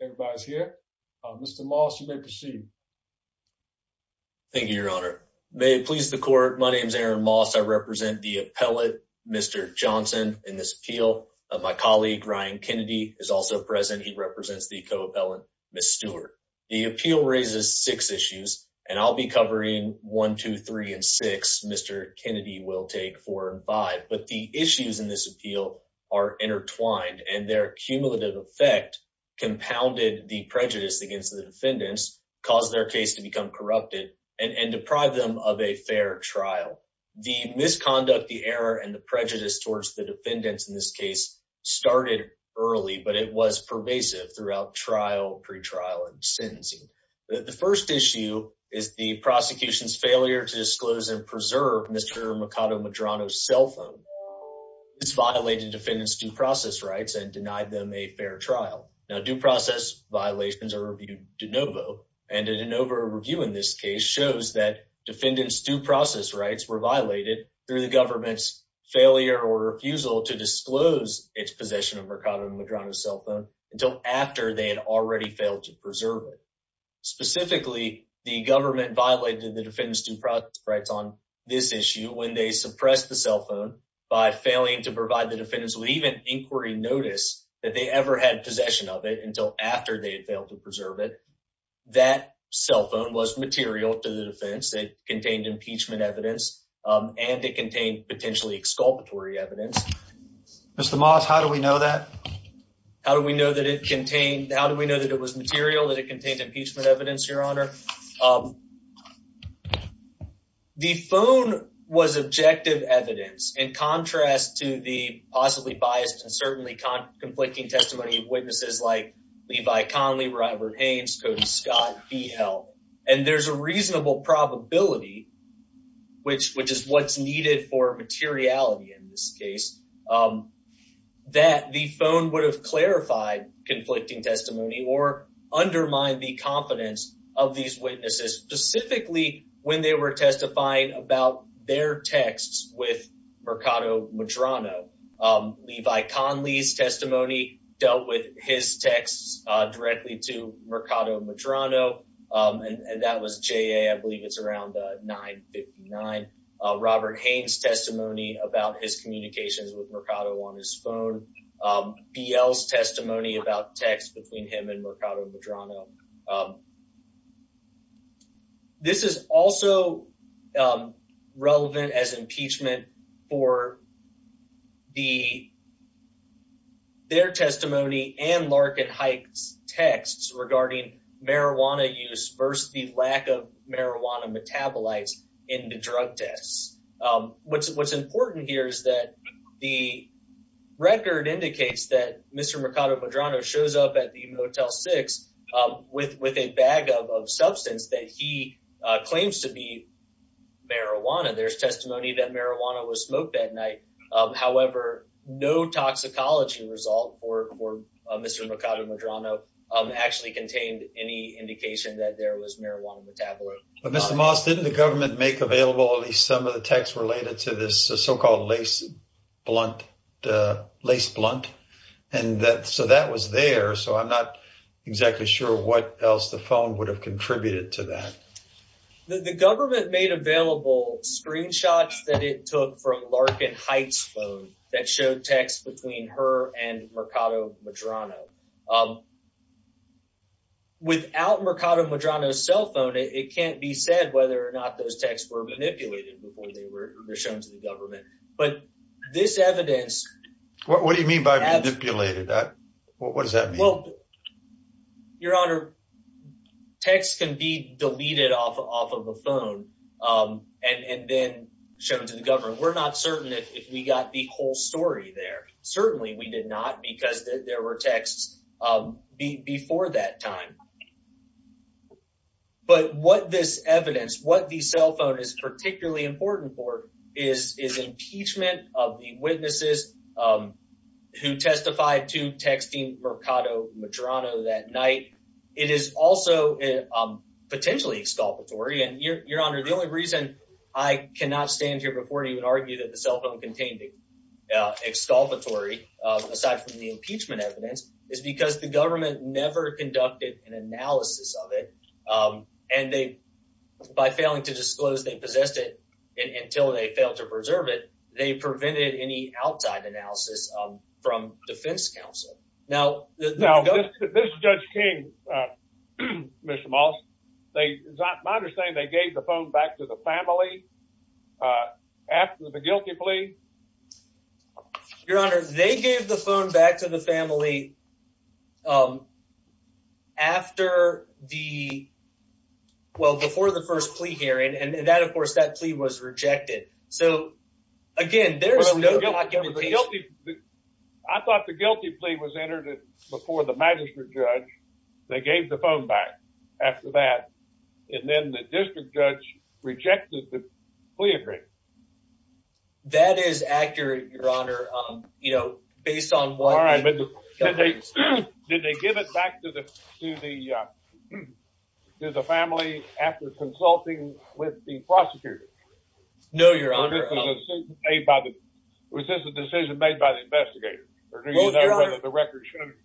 Everybody's here. Mr. Moss, you may proceed. Thank you, Your Honor. May it please the Court, my name is Aaron Moss. I represent the appellate Mr. Johnson in this appeal. My colleague, Ryan Kennedy, is also present. He represents the co-appellant, Ms. Stewart. The appeal raises six issues, and I'll be covering one, two, three, and six. Mr. Kennedy will take four and five. But the issues in this appeal are intertwined, and their cumulative effect compounded the prejudice against the defendants, caused their case to become corrupted, and deprived them of a fair trial. The misconduct, the error, and the prejudice towards the defendants in this case started early, but it was pervasive throughout trial, pretrial, and sentencing. The first issue is the prosecution's failure to disclose and preserve Mr. Mercado Medrano's cell phone. It's violated defendants' due process rights and denied them a fair trial. Now, due process violations are reviewed de novo, and a de novo review in this case shows that defendants' due process rights were violated through the government's failure or refusal to disclose its possession of Mercado Medrano's cell phone until after they had already failed to preserve it. Specifically, the government violated the defendants' due process rights on this issue when they suppressed the cell phone by failing to provide the defendants with even inquiry notice that they ever had possession of it until after they failed to preserve it. That cell phone was material to the defendants. It contained impeachment evidence, and it contained potentially exculpatory evidence. Mr. Mollis, how do we know that? How do we know that it contained, how do we know that it was material, that it contained impeachment evidence, Your Honor? The phone was objective evidence in contrast to the possibly biased and certainly conflicting testimony of witnesses like Levi Conley, Robert Haynes, Coach Scott, he held. And there's a reasonable probability, which is what's needed for materiality in this case, that the phone would clarify conflicting testimony or undermine the confidence of these witnesses, specifically when they were testifying about their texts with Mercado Medrano. Levi Conley's testimony dealt with his texts directly to Mercado Medrano, and that was J.A., I believe it's around 9-59. Robert Haynes' testimony about his communications with Mercado on his phone. BL's testimony about texts between him and Mercado Medrano. This is also relevant as impeachment for the, their testimony and Larkin Hite's marijuana use versus the lack of marijuana metabolites in the drug tests. What's important here is that the record indicates that Mr. Mercado Medrano shows up at the Motel 6 with a bag of substance that he claims to be marijuana. There's testimony that marijuana was smoked that night. However, no toxicology result for Mr. Mercado Medrano actually contained any indication that there was marijuana metabolite. But Mr. Moss, didn't the government make available at least some of the texts related to this so-called lace blunt? And so that was there, so I'm not exactly sure what else the phone would have contributed to that. The government made available screenshots that it took for Larkin Hite's phone that showed texts between her and Mercado Medrano. Without Mercado Medrano's cell phone, it can't be said whether or not those texts were manipulated before they were shown to the government. But this evidence... What do you mean by manipulated? What does that mean? Well, Your Honor, texts can be deleted off of the phone and then shown to the government. We're not certain if we got the whole story there. Certainly we did not because there were texts before that time. But what this evidence, what the cell phone is particularly important for is impeachment of the witnesses who testified to texting Mercado Medrano that night. It is also potentially exculpatory. And Your Honor, the only reason I cannot stand here before you and argue that the cell phone contained exculpatory, aside from the impeachment evidence, is because the government never conducted an analysis of it. And by failing to disclose they possessed it until they failed to preserve it, they prevented any outside analysis from defense counsel. Now, this Judge King, Mr. Moss, my understanding is they gave the phone back to the family after the guilty plea? Your Honor, they gave the phone back to the family after the... Well, before the first plea hearing. And that, of course, that plea was rejected. So, again, there's no... I thought the guilty plea was entered before the magistrate judge. They gave the phone back after that. And then the district judge rejected the plea agreement. That is accurate, Your Honor, based on what... All right. Did they give it back to the family after consulting with the prosecutor? No, Your Honor. Was this a decision made by the investigator? Or do you know whether the record showed it?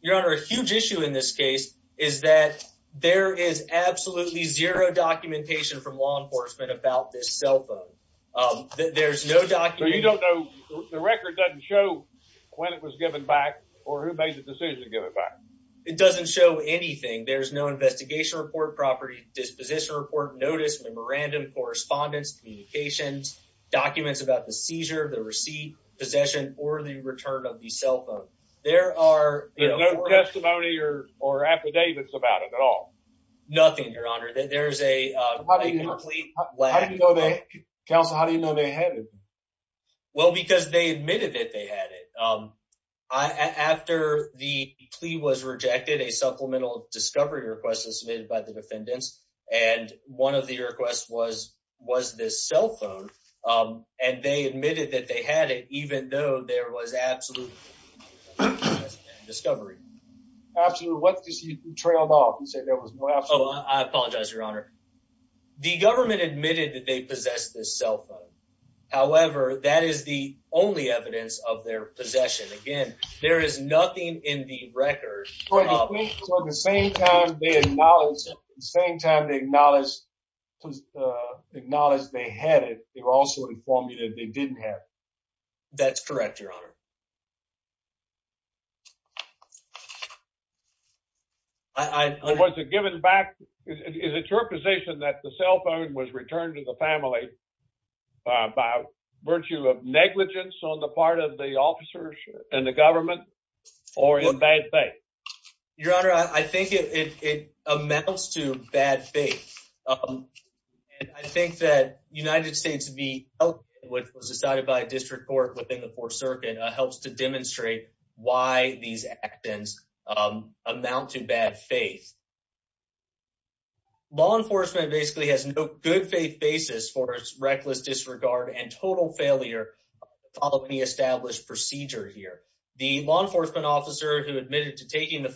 Your Honor, a huge issue in this case is that there is absolutely zero documentation from law enforcement about this cell phone. There's no documentation... So, you don't know... The record doesn't show when it was given back or who made the decision to give it back? It doesn't show anything. There's no investigation report, property disposition report, notice, memorandum, correspondence, communications, documents about the seizure, the receipt, possession, or the return of the cell phone. There are... There's no testimony or affidavits about it at all? Nothing, Your Honor. There's a complete... Counsel, how do you know they had it? Well, because they admitted that they had it. After the plea was rejected, a supplemental discovery request was submitted by the defendants. And one of the requests was this cell phone. And they admitted that they had it, even though there was absolutely no discovery. Absolutely. What did you trailed off? You said Your Honor, the government admitted that they possessed this cell phone. However, that is the only evidence of their possession. Again, there is nothing in the records... So, at the same time they acknowledged... At the same time they acknowledged they had it, they were also informed that they didn't have it. That's correct, Your Honor. Was it given back? Is it your position that the cell phone was returned to the family by virtue of negligence on the part of the officers and the government or in bad faith? Your Honor, I think it amounts to bad faith. And I think that United States v. Oakland, which was decided by a district court within the Fourth Circuit, helps to demonstrate why these actions amount to bad faith. Law enforcement basically has no good faith basis for its reckless disregard and total failure of the established procedure here. The law enforcement officer who admitted to taking the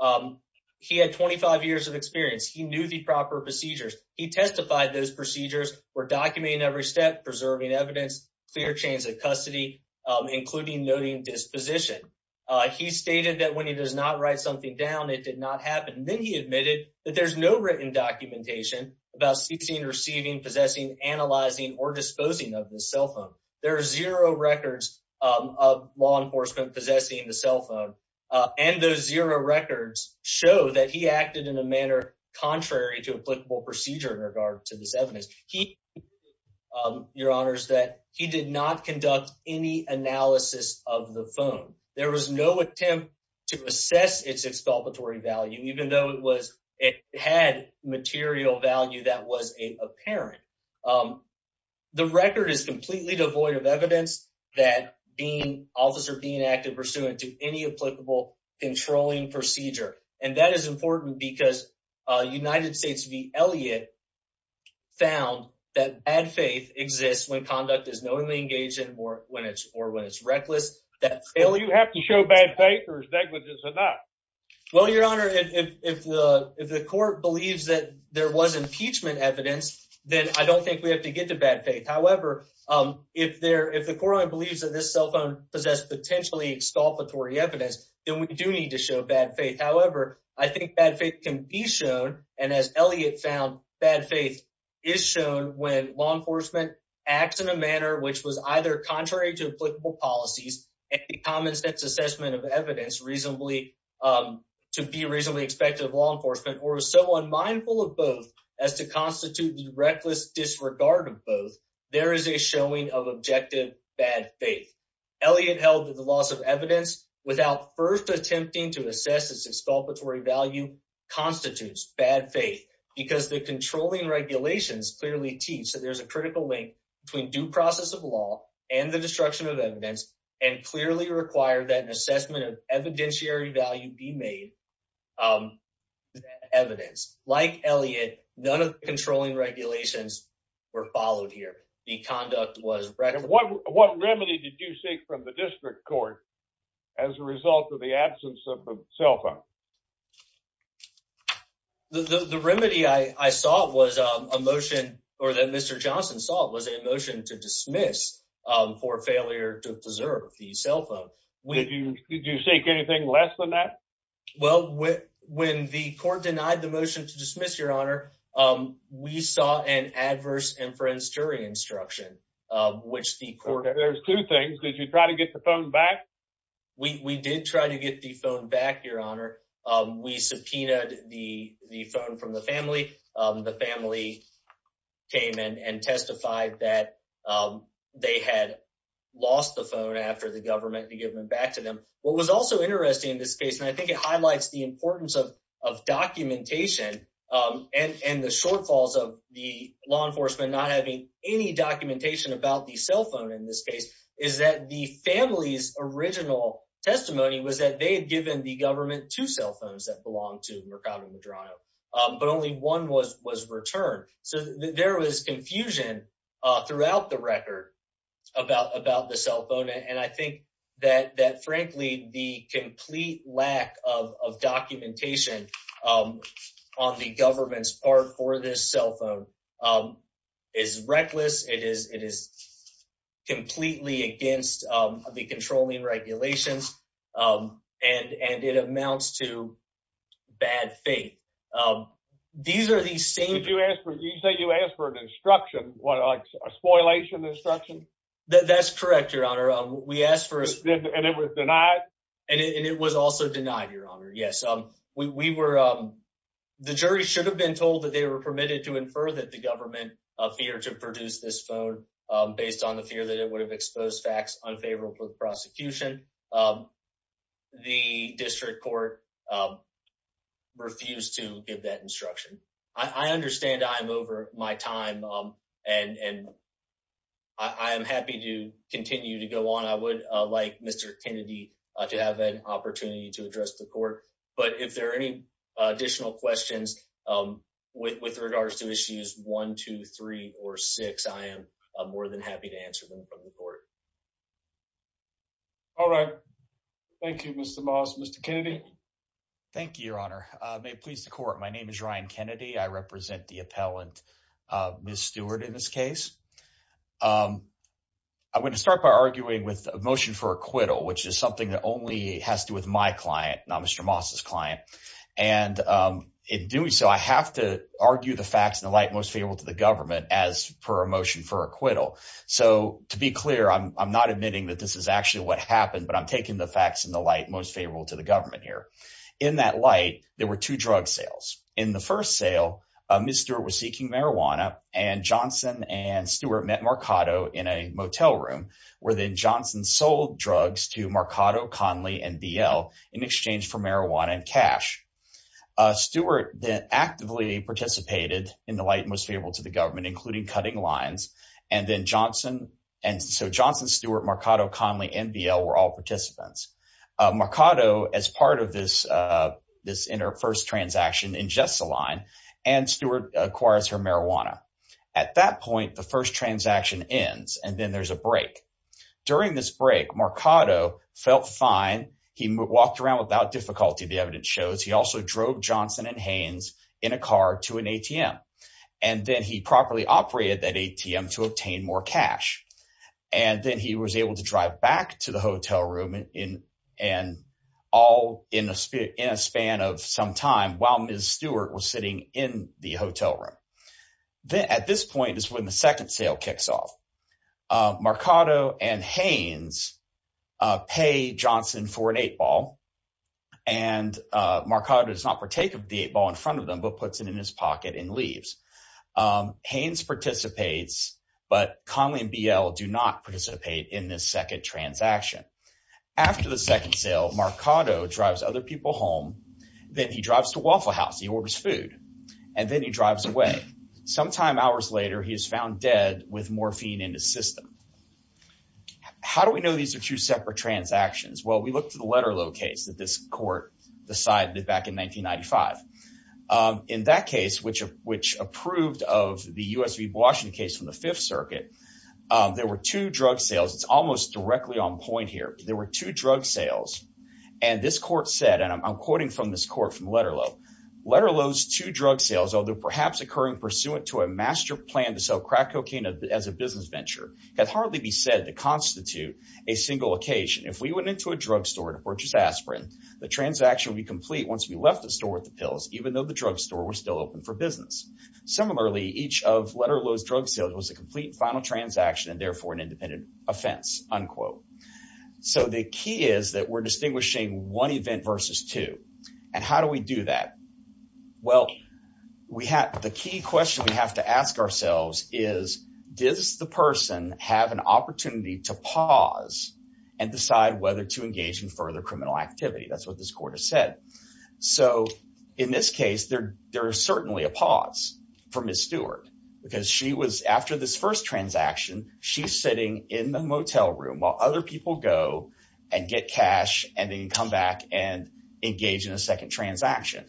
phone, he had 25 years of experience. He knew the proper procedures. He testified those procedures were documenting every step, preserving evidence, clear chains of custody, including noting disposition. He stated that when he does not write something down, it did not happen. Then he admitted that there's no written documentation about seeking, receiving, possessing, analyzing, or disposing of the cell phone. There are zero records of law enforcement possessing the cell phone. And those zero records show that he acted in a manner contrary to applicable procedure in regards to this evidence. He, Your Honor, said he did not conduct any analysis of the phone. There was no attempt to assess its exculpatory value, even though it had material value that was apparent. The record is completely devoid of evidence that the officer being active pursuant to any applicable controlling procedure. And that is important because United States v. Elliott found that bad faith exists when conduct is knowingly engaged or when it's reckless. That's ill. You have to show bad faith or is that what this is about? Well, Your Honor, if the court believes that there was impeachment evidence, then I don't think we have to get to bad faith. However, if the court believes that this cell phone possessed potentially exculpatory evidence, then we do need to show bad faith. However, I think bad faith can be shown. And as Elliott found, bad faith is shown when law enforcement acts in a manner which was either contrary to applicable policies and the common sense assessment of evidence reasonably to be reasonably effective law enforcement or so unmindful of both as to constitute the reckless disregard of both. There is a showing of objective bad faith. Elliott held that the loss of evidence without first attempting to assess its exculpatory value constitutes bad faith because the controlling regulations clearly teach that there's a critical link between due process of law and the destruction of evidence and clearly require that an assessment of evidentiary value be made to that evidence. Like Elliott, none of the controlling regulations were followed here. The conduct was... What remedy did you seek from the district court as a result of the absence of the cell phone? The remedy I saw was a motion or that Mr. Johnson saw was a motion to dismiss for failure to preserve the cell phone. Did you seek anything less than that? Well, when the court denied the motion to dismiss, Your Honor, we saw an adverse inference jury instruction, which the court... There's two things. Did you try to get the phone back? We did try to get the phone back, Your Honor. We subpoenaed the phone from the family. The family came in and testified that they had lost the phone after the government had given it back to them. What was also interesting in this case, and I think it highlights the importance of documentation and the shortfalls of the law enforcement not having any documentation about the cell phone in this case, is that the family's original testimony was that they had given the government two cell phones that belonged to Mercado Medrano, but only one was returned. There was confusion throughout the record about the cell phone. I think that, frankly, the complete lack of documentation on the government's part for this cell phone is reckless. It is completely against the controlling regulations, and it amounts to bad faith. These are the same... Did you say you asked for an instruction, a spoilation instruction? That's correct, Your Honor. We asked for... And it was denied? And it was also denied, Your Honor, yes. The jury should have been told that they were permitted to infer that the government appeared to produce this phone based on the fear that it would have exposed facts unfavorable to prosecution. The district court refused to give that instruction. I understand I am over my time, and I am happy to continue to go on. I would like Mr. Kennedy to have an opportunity to address the court, but if there are any additional questions with regards to issues one, two, three, or six, I am more than happy to answer them from the court. All right. Thank you, Mr. Moss. Mr. Kennedy? Thank you, Your Honor. May it please the court, my name is Ryan Kennedy. I represent the appellant, Ms. Stewart, in this case. I'm going to start by arguing with a motion for acquittal, which is something that only has to do with my client, not Mr. Moss's client. And in doing so, I have to argue the facts in the light most favorable to the government as per a motion for acquittal. So, to be clear, I'm not admitting that this is actually what happened, but I'm taking the facts in the light most favorable to the government here. In that light, there were two drug sales. In the first sale, Ms. Stewart was seeking marijuana, and Johnson and Stewart met Marcotto in a motel room where then Johnson sold drugs to Marcotto, Conley, and BL in exchange for marijuana and cash. Stewart then actively participated in the light most favorable to the government, including cutting lines, and then Johnson, Stewart, Marcotto, Conley, and BL were all participants. Marcotto, as part of this first transaction, ingests the line, and Stewart acquires her marijuana. At that point, the first transaction ends, and then there's a break. During this break, Marcotto felt fine. He walked around without difficulty, the evidence shows. He drove Johnson and Haynes in a car to an ATM, and then he properly operated that ATM to obtain more cash. Then he was able to drive back to the hotel room in a span of some time while Ms. Stewart was sitting in the hotel room. At this point is when the second sale kicks off. Marcotto and Haynes pay Johnson for an eight ball, and Marcotto does not partake of the eight ball in front of them, but puts it in his pocket and leaves. Haynes participates, but Conley and BL do not participate in this second transaction. After the second sale, Marcotto drives other people home, then he drives to Waffle House, he orders food, and then he drives away. Sometime hours later, he is found dead with morphine in his system. How do we know these are two separate transactions? Well, we looked at the Letterlo case that this court decided back in 1995. In that case, which approved of the U.S. v. Washington case in the Fifth Circuit, there were two drug sales. It's almost directly on point here. There were two drug sales, and this court said, and I'm quoting from this court from Letterlo, Letterlo's two drug sales, although perhaps occurring pursuant to a master plan to sell crack cocaine as a business venture, had hardly been said to constitute a single occasion. If we went into a drug store to purchase aspirin, the transaction would be complete once we left the store with the pills, even though the drug store was still open for business. Similarly, each of Letterlo's drug sales was a complete final transaction and therefore an independent offense, unquote. So the key is that we're distinguishing one event versus two, and how do we do that? Well, the key question we have to ask ourselves is, does the person have an opportunity to pause and decide whether to engage in further criminal activity? That's what this court has said. So in this case, there is certainly a pause for Ms. Stewart because she was, after this first transaction, she's sitting in the motel room while other people go and get cash and then come back and engage in a second transaction.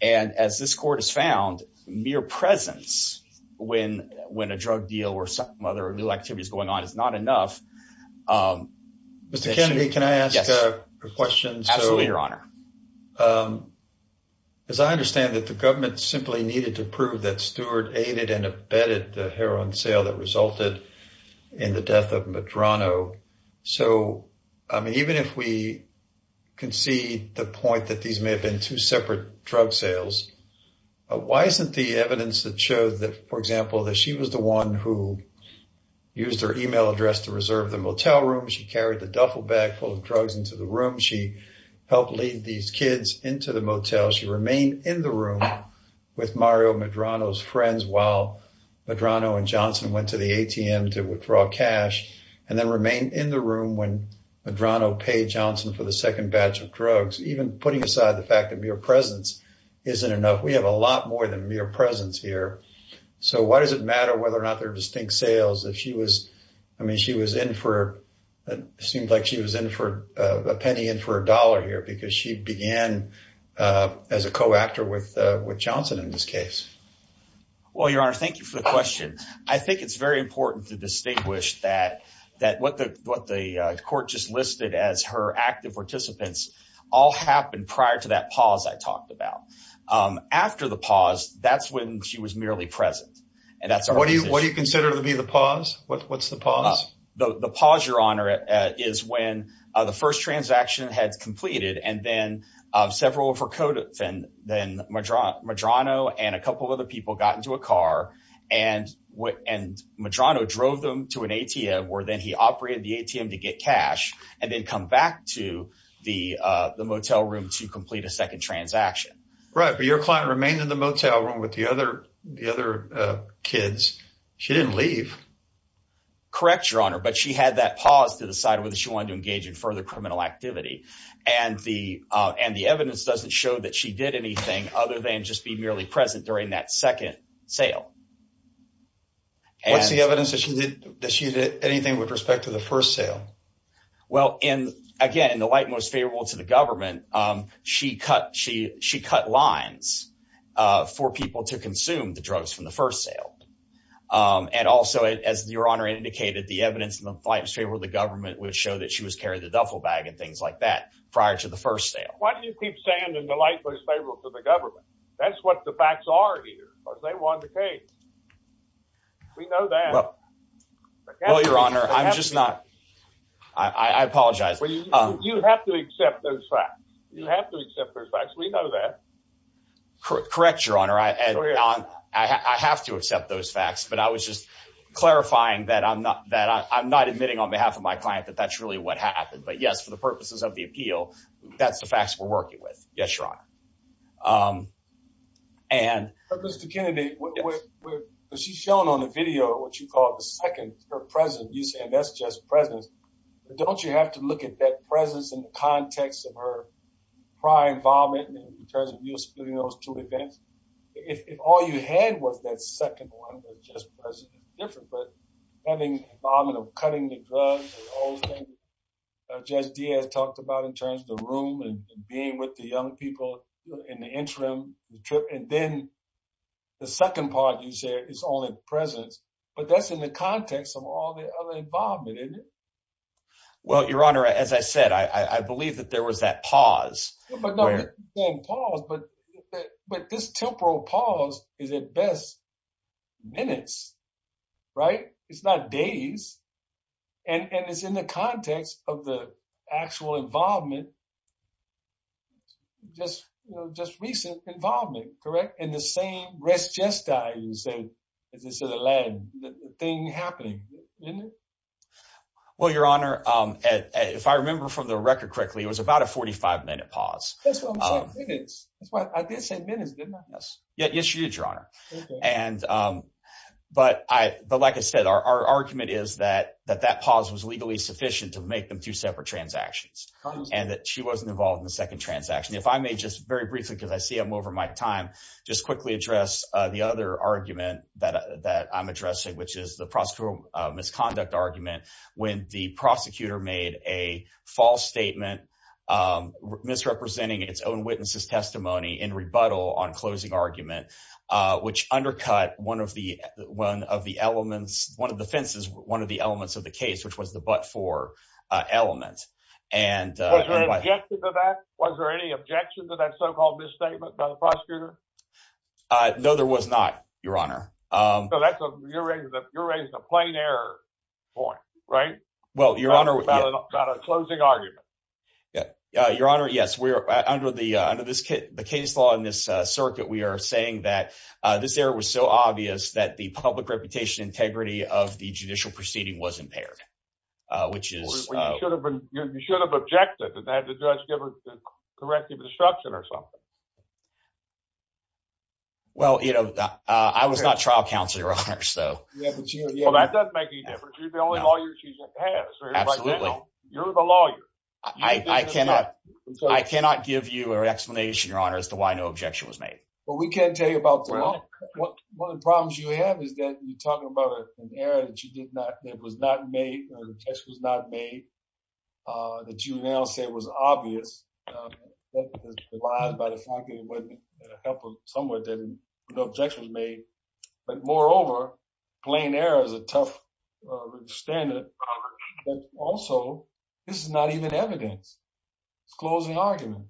And as this court has found, mere presence when a drug deal or some other activity is going on is not enough. Mr. Kennedy, can I ask a question? Absolutely, Your Honor. As I understand it, the government simply needed to prove that Stewart aided and abetted the drug sales. And I wonder if we can see the point that these may have been two separate drug sales. Why isn't the evidence that shows that, for example, that she was the one who used her email address to reserve the motel room, she carried the duffel bag full of drugs into the room, she helped lead these kids into the motel, she remained in the room with Mario Medrano's friends while Medrano and Johnson went to the ATM to withdraw cash, and then remained in the room when Medrano paid Johnson for the second batch of drugs. Even putting aside the fact that mere presence isn't enough, we have a lot more than mere presence here. So why does it matter whether or not they're distinct sales if she was, I mean, she was in for, it seems like she was in for a penny in for a dollar here because she began as a co-actor with Johnson in this case. Well, Your Honor, thank you for the question. I think it's very important to distinguish that that what the court just listed as her active participants all happened prior to that pause I talked about. After the pause, that's when she was merely present. What do you consider to be the pause? What's the pause? The pause, Your Honor, is when the first transaction had completed and then several of her co-defendants, Medrano and a couple of other people, got into a car and Medrano drove them to an ATM where then he operated the ATM to get cash, and then come back to the motel room to complete a second transaction. Right, but your client remained in the motel room with the other kids. She didn't leave. Correct, Your Honor, but she had that pause to decide whether she wanted to engage in further criminal activity, and the evidence doesn't show that she did anything other than just be merely present during that second sale. What's the evidence that she did anything with respect to the first sale? Well, again, in the light most favorable to the government, she cut lines for people to consume the drugs from the first sale, and also, as Your Honor indicated, the evidence in the light most favorable to the government would show that she was carrying a duffel bag and things like that prior to the first sale. Why do you keep saying the light most favorable to the government? That's what the facts are here, but they want the case. We know that. Well, Your Honor, I'm just not... I apologize. You have to accept those facts. You have to accept those facts. We know that. Correct, Your Honor. I have to accept those facts, but I was just clarifying that I'm not admitting on behalf of my client that that's really what happened, but yes, for the purposes of the appeal, that's the facts we're working with. Yes, Your Honor. Mr. Kennedy, what she's shown on the video, what you call the second, her presence, you're saying that's just present. Don't you have to look at that presence in the context of her prior involvement in terms of U.S. studios, too, again? If all you had was that second one that's just present, it's different, but having involvement of cutting the drugs and Judge Diaz talked about in terms of the room and being with the young people in the interim, and then the second part you said is only present, but that's in the context of all the other involvement, isn't it? Well, Your Honor, as I said, I believe that there was that pause. Not the same pause, but this temporal pause is at best minutes, right? It's not days, and it's in the context of the actual involvement, just recent involvement, correct? And the same rest just died, you say, as you said, a lag, the thing happening, isn't it? Well, Your Honor, if I remember from the pause. Yes, Your Honor. But like I said, our argument is that that pause was legally sufficient to make them two separate transactions, and that she wasn't involved in the second transaction. If I may just very briefly, because I see I'm over my time, just quickly address the other argument that I'm addressing, which is the prosecutorial misconduct argument when the prosecutor is misrepresenting its own witness's testimony in rebuttal on closing argument, which undercut one of the elements, one of the fences, one of the elements of the case, which was the but-for element. Was there any objection to that so-called misstatement by the prosecutor? No, there was not, Your Honor. So you're raising a plain error point, right? Well, Your Honor, we've got a closing argument. Yeah, Your Honor, yes, we're under the case law in this circuit, we are saying that this error was so obvious that the public reputation integrity of the judicial proceeding was impaired, which is. You should have objected that the judge corrected the disruption or something. Well, you know, I was not trial counsel, Your Honor, so. Well, that doesn't make any difference. You're the only lawyer she has. Absolutely. You're the lawyer. I cannot give you an explanation, Your Honor, as to why no objection was made. Well, we can't tell you about the law. One of the problems you have is that you're talking about an error that you did not, that was not made, or the test was not made, that you now say was obvious. But moreover, plain error is a tough standard. Also, this is not even evident. Closing argument.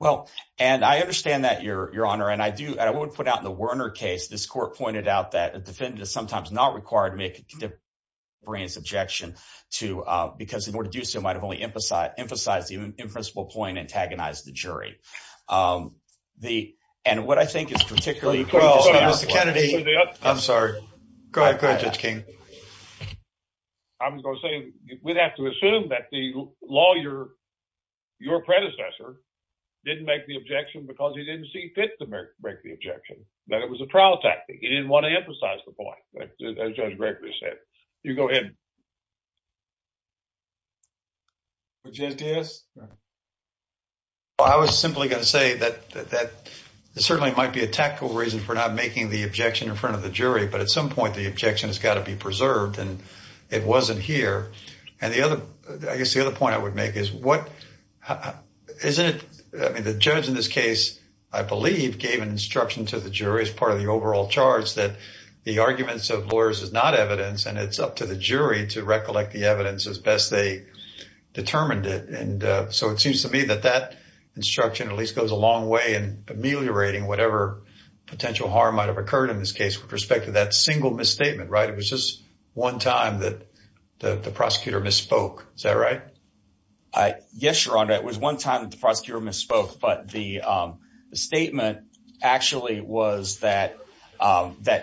Well, and I understand that, Your Honor, and I do, I would put out in the Werner case, this court pointed out that the defendant is sometimes not required to make a brief objection to, because in order to do so, might have only emphasized the in-principle point antagonized the jury. And what I think is particularly true, Mr. Kennedy, I'm sorry. Go ahead, Judge King. I was going to say, we'd have to assume that the lawyer, your predecessor, didn't make the objection because he didn't see fit to make the objection, that it was a prowl tactic. He didn't want to emphasize the point, as Judge Gregory said. You go ahead, JPS. Well, I was simply going to say that that certainly might be a tactical reason for not making the objection in front of the jury, but at some point, the objection has got to be preserved and it wasn't here. And the other, I guess the other point I would make is, what is it, I mean, the judge in this case, I believe, gave an instruction to the jury as part of the overall charge that the arguments of lawyers is not evidence and it's up to the jury to recollect the evidence as best they determined it. And so it seems to me that that instruction at least goes a long way in ameliorating whatever potential harm might've occurred in this case with respect to that single misstatement, right? It was just one time that the prosecutor misspoke. Is that right? Yes, Your Honor. It was one time that the prosecutor misspoke, but the statement actually was that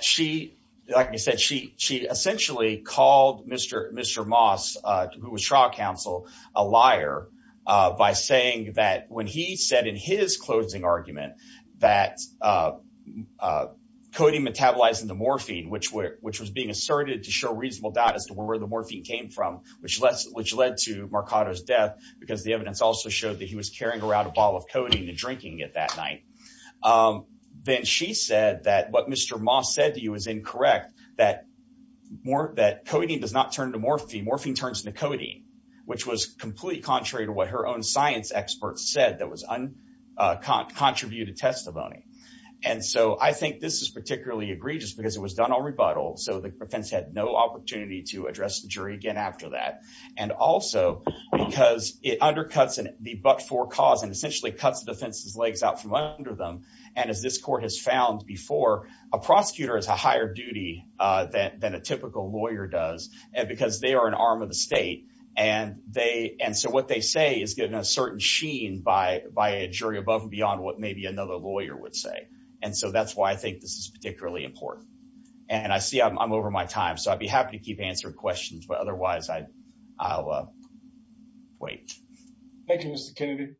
she, like I said, she essentially called Mr. Moss, who was trial counsel, a liar by saying that when he said in his closing argument that coding metabolized into morphine, which was being asserted to show reasonable doubt as to where the morphine came from, which led to Marcotto's death, because the evidence also showed that he was carrying around a bottle of codeine and drinking it that night. Then she said that what Mr. Moss said to you was incorrect, that codeine does not turn to morphine, morphine turns into codeine, which was completely contrary to what her own science expert said that was contributed testimony. And so I think this is particularly egregious because it was done on rebuttal, so the defense had no opportunity to address the jury again after that. And also because it undercuts the forecast and essentially cuts the defense's legs out from under them. And as this court has found before, a prosecutor has a higher duty than a typical lawyer does because they are an arm of the state. And so what they say is getting a certain sheen by a jury above and beyond what maybe another lawyer would say. And so that's why I think this is particularly important. And I see I'm over my time, so I'd be happy to keep answering questions, but otherwise I'll wait. Thank you, Mr. Kennedy.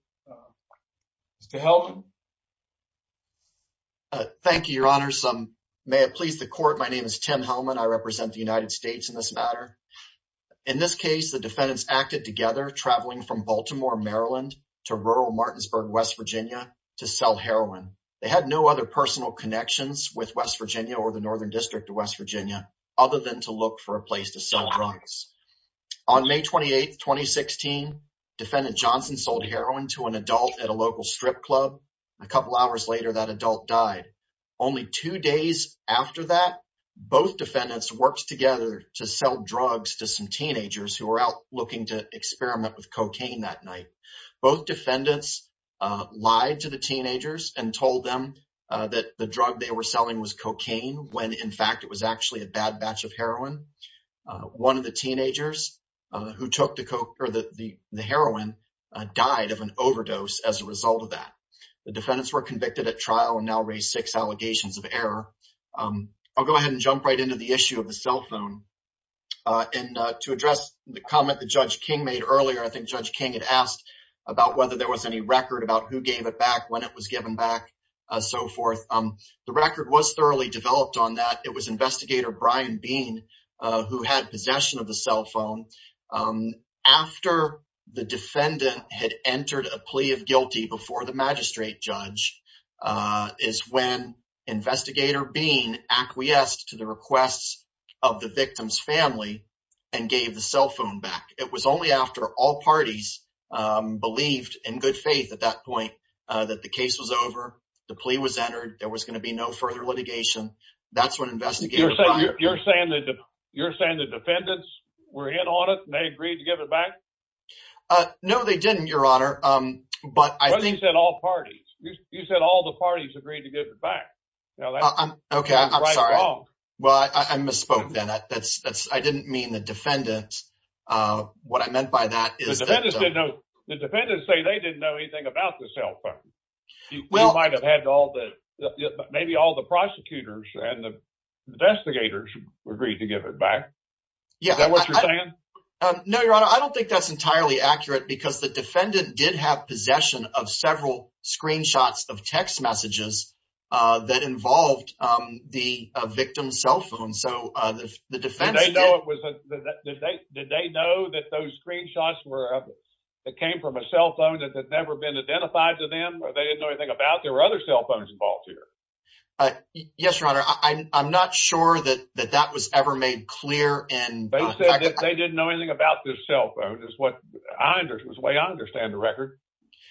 Mr. Hellman? Thank you, Your Honor. May it please the court, my name is Tim Hellman. I represent the United States in this matter. In this case, the defendants acted together, traveling from Baltimore, Maryland to rural Martinsburg, West Virginia to sell heroin. They had no other personal connections with West Virginia or the Northern District of West Virginia other than to look for a place to sell drugs. On May 28, 2016, Defendant Johnson sold heroin to an adult at a local strip club. A couple hours later, that adult died. Only two days after that, both defendants worked together to sell drugs to some teenagers who were out looking to experiment with cocaine that night. Both defendants lied to the teenagers and told them that the drug they were selling was cocaine when in fact it was actually a bad batch of heroin. One of the teenagers who took the heroin died of an overdose as a result of that. The defendants were convicted at trial and now raised six allegations of error. I'll go ahead and jump right into the issue of the cell phone. And to address the comment that Judge King made earlier, I think Judge King had asked about whether there was any record about who gave it back, when it was given back, so forth. The record was thoroughly developed on that. It was Investigator Brian Bean who had possession of the cell phone. After the defendant had entered a plea of guilty before the family and gave the cell phone back, it was only after all parties believed in good faith at that point that the case was over, the plea was entered, there was going to be no further litigation. That's when investigators… You're saying the defendants were hit on it and they agreed to give it back? No, they didn't, Your Honor. But I think… But you said all parties. You said all the parties agreed to give it back. Now, that's right or wrong. Okay, I'm sorry. Well, I misspoke then. I didn't mean the defendants. What I meant by that is… The defendants say they didn't know anything about the cell phone. You might have had all the… maybe all the prosecutors and the investigators agreed to give it back. Is that what you're saying? No, Your Honor. I don't think that's entirely accurate because the defendant did have possession of several screenshots of text messages that involved the victim's cell phone. Did they know that those screenshots came from a cell phone that had never been identified to them or they didn't know anything about? There were other cell phones involved here. Yes, Your Honor. I'm not sure that that was ever made clear. They said that they didn't know anything about this cell phone. It's the way I understand the record.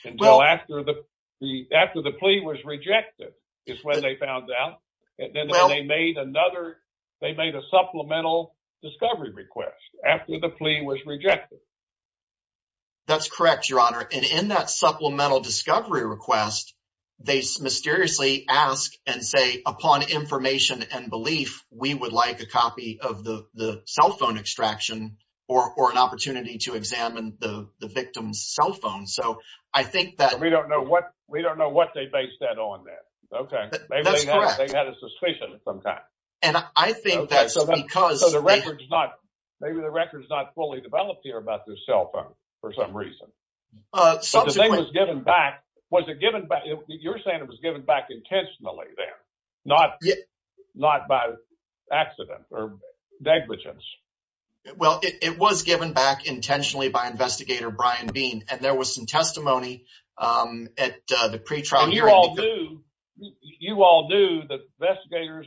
Until after the plea was rejected is when they found out. And then they made another… they made a supplemental discovery request after the plea was rejected. That's correct, Your Honor. And in that supplemental discovery request, they mysteriously ask and say, upon information and belief, we would like a copy of the cell phone extraction or an opportunity to examine the victim's cell phone. So, I think that… We don't know what they based that on then. Okay. Maybe they had a suspicion at some time. And I think that's because… So, the record's not… maybe the record's not fully developed here about this cell phone for some reason. But the thing was given back. Was it given back? You're saying it was given back intentionally then, not by accident or negligence? Well, it was given back intentionally by Investigator Brian Bean. And there was some testimony at the pretrial hearing. And you all knew… you all knew, the investigators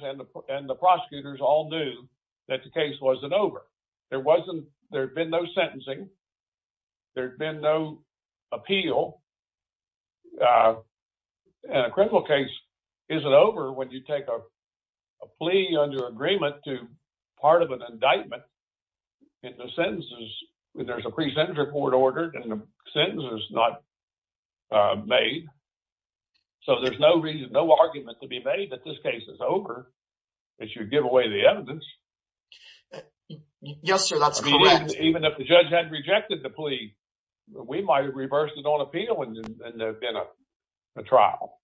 and the prosecutors all knew that the case wasn't over. There wasn't… there'd been no sentencing. There'd been no appeal. A criminal case isn't over when you take a plea under agreement to part of an indictment. If the sentence is… there's a pre-sentence report ordered and the sentence is not made. So, there's no reason, no argument to be made that this case is over. It should give away the evidence. Yes, sir. That's correct. Even if the judge had rejected the plea, we might have reversed it on appeal in a trial.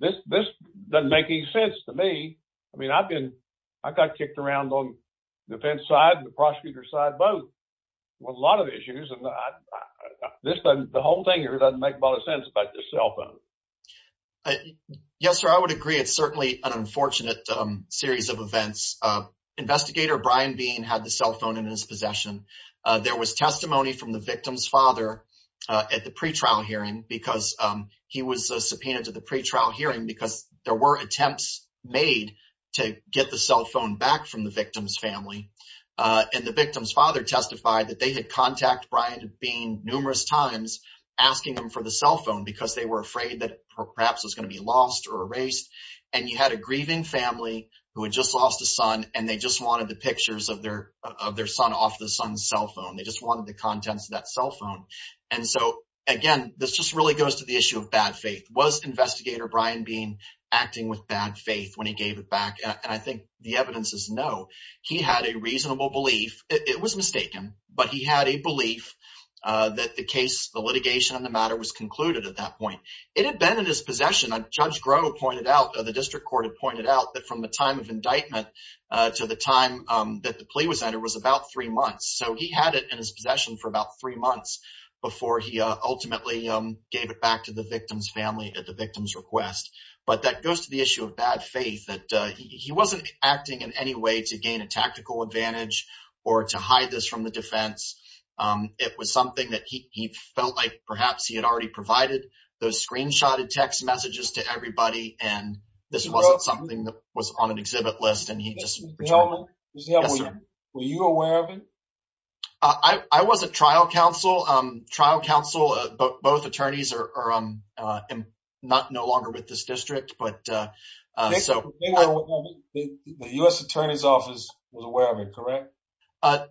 This doesn't make any sense to me. I mean, I've been… I got kicked around on the defense side and the prosecutor's side both with a lot of issues. And this doesn't… the whole thing here doesn't make a lot of sense about this cell phone. Yes, sir. I would agree. It's certainly an unfortunate series of events. Investigator Brian Bean had the cell phone in his possession. There was testimony from the victim's father at the pretrial hearing because he was subpoenaed to the pretrial hearing because there were attempts made to get the cell phone back from the victim's family. And the victim's father testified that they had contacted Brian Bean numerous times asking him for the cell phone because they were afraid that perhaps it was going to be lost or erased. And he had a grieving family who had just lost a son and they just the pictures of their son off the son's cell phone. They just wanted the contents of that cell phone. And so, again, this just really goes to the issue of bad faith. Was Investigator Brian Bean acting with bad faith when he gave it back? And I think the evidence is no. He had a reasonable belief. It was mistaken, but he had a belief that the case, the litigation on the matter, was concluded at that point. It had been in his possession. Judge Groh pointed out, the district court had pointed out, that from the time of indictment to the time that the plea was entered was about three months. So he had it in his possession for about three months before he ultimately gave it back to the victim's family at the victim's request. But that goes to the issue of bad faith, that he wasn't acting in any way to gain a tactical advantage or to hide this from the defense. It was something that he felt like perhaps he had already provided those screenshotted text messages to everybody, and this wasn't something that was on an exhibit list, and he just returned it. Was you aware of it? I was a trial counsel. Both attorneys are no longer with this district, but- The U.S. Attorney's Office was aware of it, correct?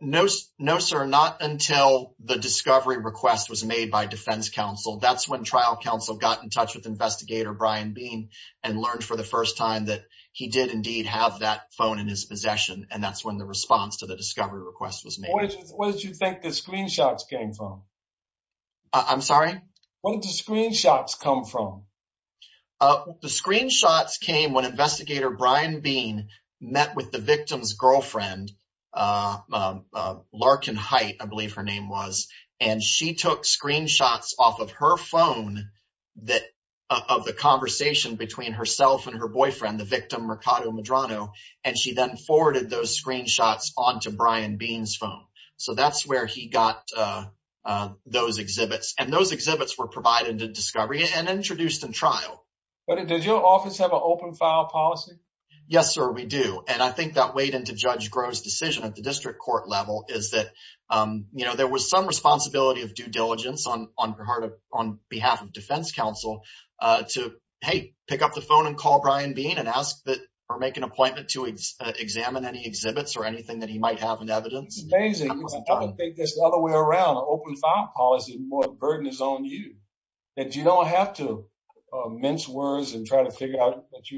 No, sir. Not until the discovery request was made by defense counsel. That's when trial counsel got in touch with Investigator Brian Bean and learned for the first time that he did indeed have that phone in his possession, and that's when the response to the discovery request was made. Where did you think the screenshots came from? I'm sorry? Where did the screenshots come from? The screenshots came when Investigator Brian Bean met with the victim's girlfriend, Larkin Hite, I believe her name was, and she took screenshots off of her phone of the conversation between herself and her boyfriend, the victim Mercado Medrano, and she then forwarded those screenshots onto Brian Bean's phone. So that's where he got those exhibits, and those exhibits were provided in discovery and introduced in trial. But does your office have an open file policy? Yes, sir, we do, and I think that weighed into Judge Groh's decision at the district court level, is that there was some responsibility of due diligence on behalf of defense counsel to, hey, pick up the phone and call Brian Bean and ask that, or make an appointment to examine any exhibits or anything that he might have in evidence. It's amazing. I think there's another way around. An open file policy is more a burden is on you, that you don't have to mince words and try to figure out that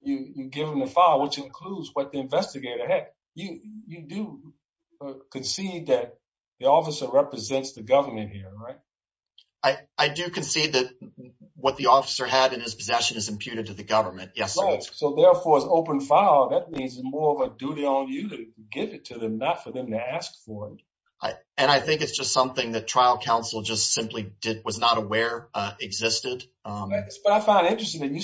you've given the file, which includes what the investigator, hey, you do concede that the officer represents the government here, right? I do concede that what the officer had in his possession is imputed to the government, yes, sir. So therefore, an open file, that means more of a duty on you to give it to them, not for them to ask for it. And I think it's just something that trial counsel just simply was not aware existed. But I find it interesting that you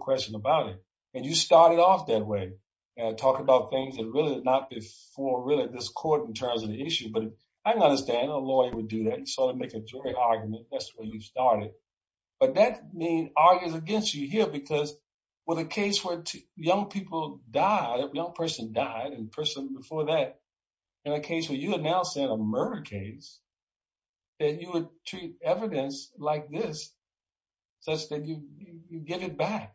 question about it. And you started off that way. And I talk about things that really is not to explore really this court in terms of the issue. But I understand a lawyer would do that. You sort of make a jury argument. That's where you started. But that means arguing against you here, because with a case where young people died, a young person died, and a person before that, in a case where you announced a murder case, that you would treat evidence like this, that's when you get it back.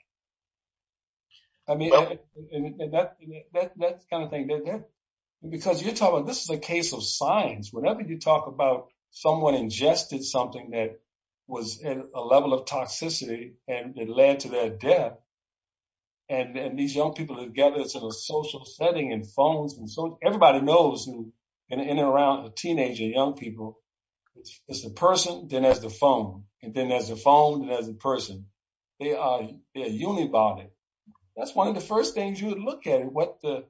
I mean, that kind of thing. Because you're talking, this is a case of science. Whenever you talk about someone ingested something that was a level of toxicity, and it led to their death, and these young people are gathered in a social setting and phones, and so everybody knows in and around the teenage and young people, it's the person, then there's the phone, and then there's the phone, then the person. They are unibody. That's one of the first things you would look at, what the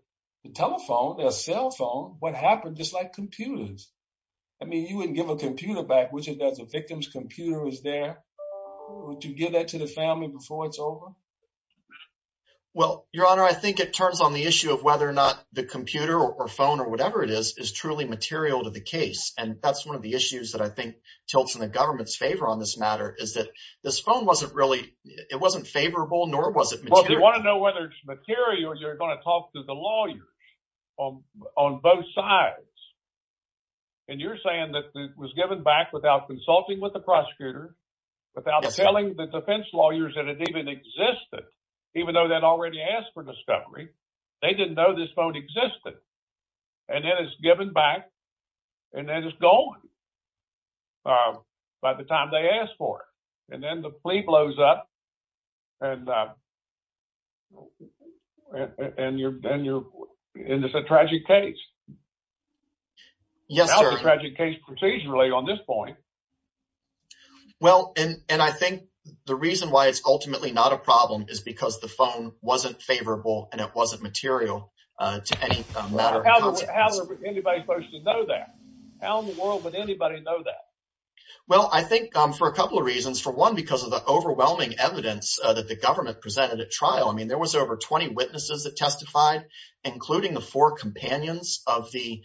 telephone, the cell phone, what happened, just like computers. I mean, you wouldn't give a computer back, which is that the victim's computer is there. Would you give that to the family before it's over? Well, Your Honor, I think it turns on the issue of whether or not the computer or phone or whatever it is, is truly material to the case. And that's one of the issues that I think tilts in the government's favor on this matter, is that this phone wasn't really, it wasn't favorable, nor was it material. Well, if you want to know whether it's material, you're going to talk to the lawyers on both sides. And you're saying that it was given back without consulting with the prosecutor, without telling the defense lawyers that it even existed, even though they'd already asked for discovery. They didn't know this phone existed. And then it's given back, and then it's gone by the time they asked for it. And then the plea blows up, and it's a tragic case. Yes, Your Honor. It's a tragic case procedurally on this point. Well, and I think the reason why it's ultimately not a problem is because the phone wasn't favorable, and it wasn't material to any of them. How in the world is anybody supposed to know that? How in the world would anybody know that? Well, I think for a couple of reasons. For one, because of the overwhelming evidence that the government presented at trial. I mean, there was over 20 witnesses that testified, including the four companions of the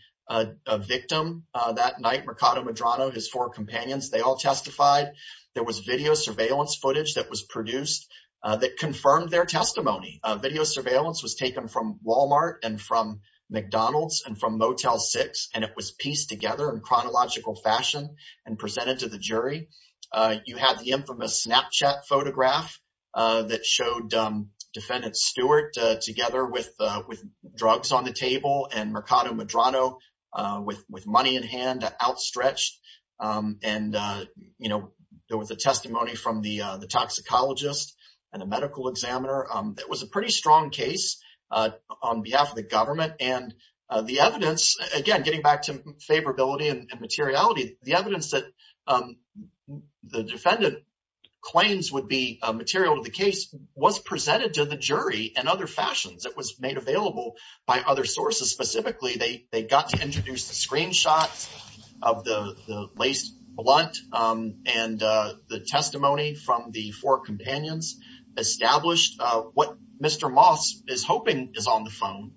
victim that night, Mercado Medrano, his four companions. They all testified. There was video surveillance footage that was produced that confirmed their testimony. Video surveillance was taken from Walmart and from McDonald's and from Motel 6, and it was pieced together in chronological fashion and presented to the jury. You had the infamous Snapchat photograph that showed Defendant Stewart together with drugs on the table and Mercado Medrano with money in hand outstretched. And there was a testimony from the case on behalf of the government. And the evidence, again, getting back to favorability and materiality, the evidence that the defendant claims would be material to the case was presented to the jury in other fashions. It was made available by other sources. Specifically, they got to introduce the screenshot of the lace blunt and the testimony from the four companions established what Mr. Moss is hoping is on the phone,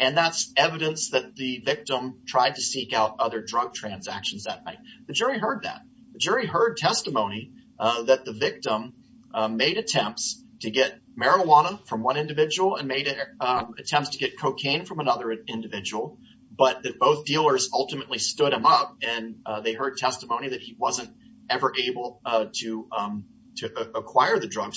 and that's evidence that the victim tried to seek out other drug transactions that night. The jury heard that. The jury heard testimony that the victim made attempts to get marijuana from one individual and made attempts to get cocaine from another individual, but that both dealers ultimately stood him up, and they heard drugs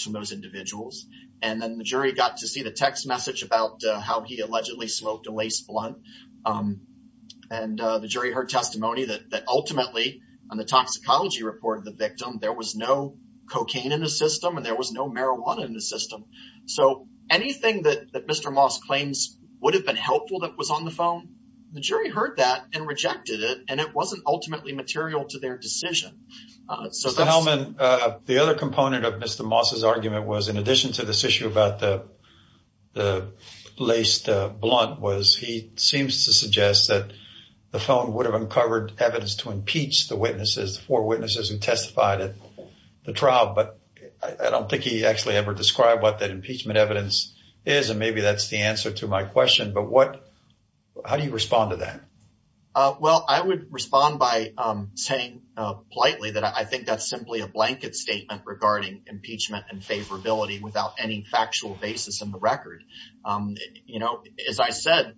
from those individuals. And then the jury got to see the text message about how he allegedly smoked a lace blunt. And the jury heard testimony that ultimately, on the toxicology report of the victim, there was no cocaine in the system and there was no marijuana in the system. So anything that Mr. Moss claims would have been helpful that was on the phone, the jury heard that and rejected it, and it wasn't ultimately material to their decision. So, Mr. Hellman, the other component of Mr. Moss's argument was, in addition to this issue about the laced blunt, was he seems to suggest that the phone would have uncovered evidence to impeach the witnesses, the four witnesses who testified at the trial, but I don't think he actually ever described what that impeachment evidence is, and maybe that's the answer to my question. But what, how do you respond to that? Well, I would respond by saying politely that I think that's simply a blanket statement regarding impeachment and favorability without any factual basis in the record. You know, as I said,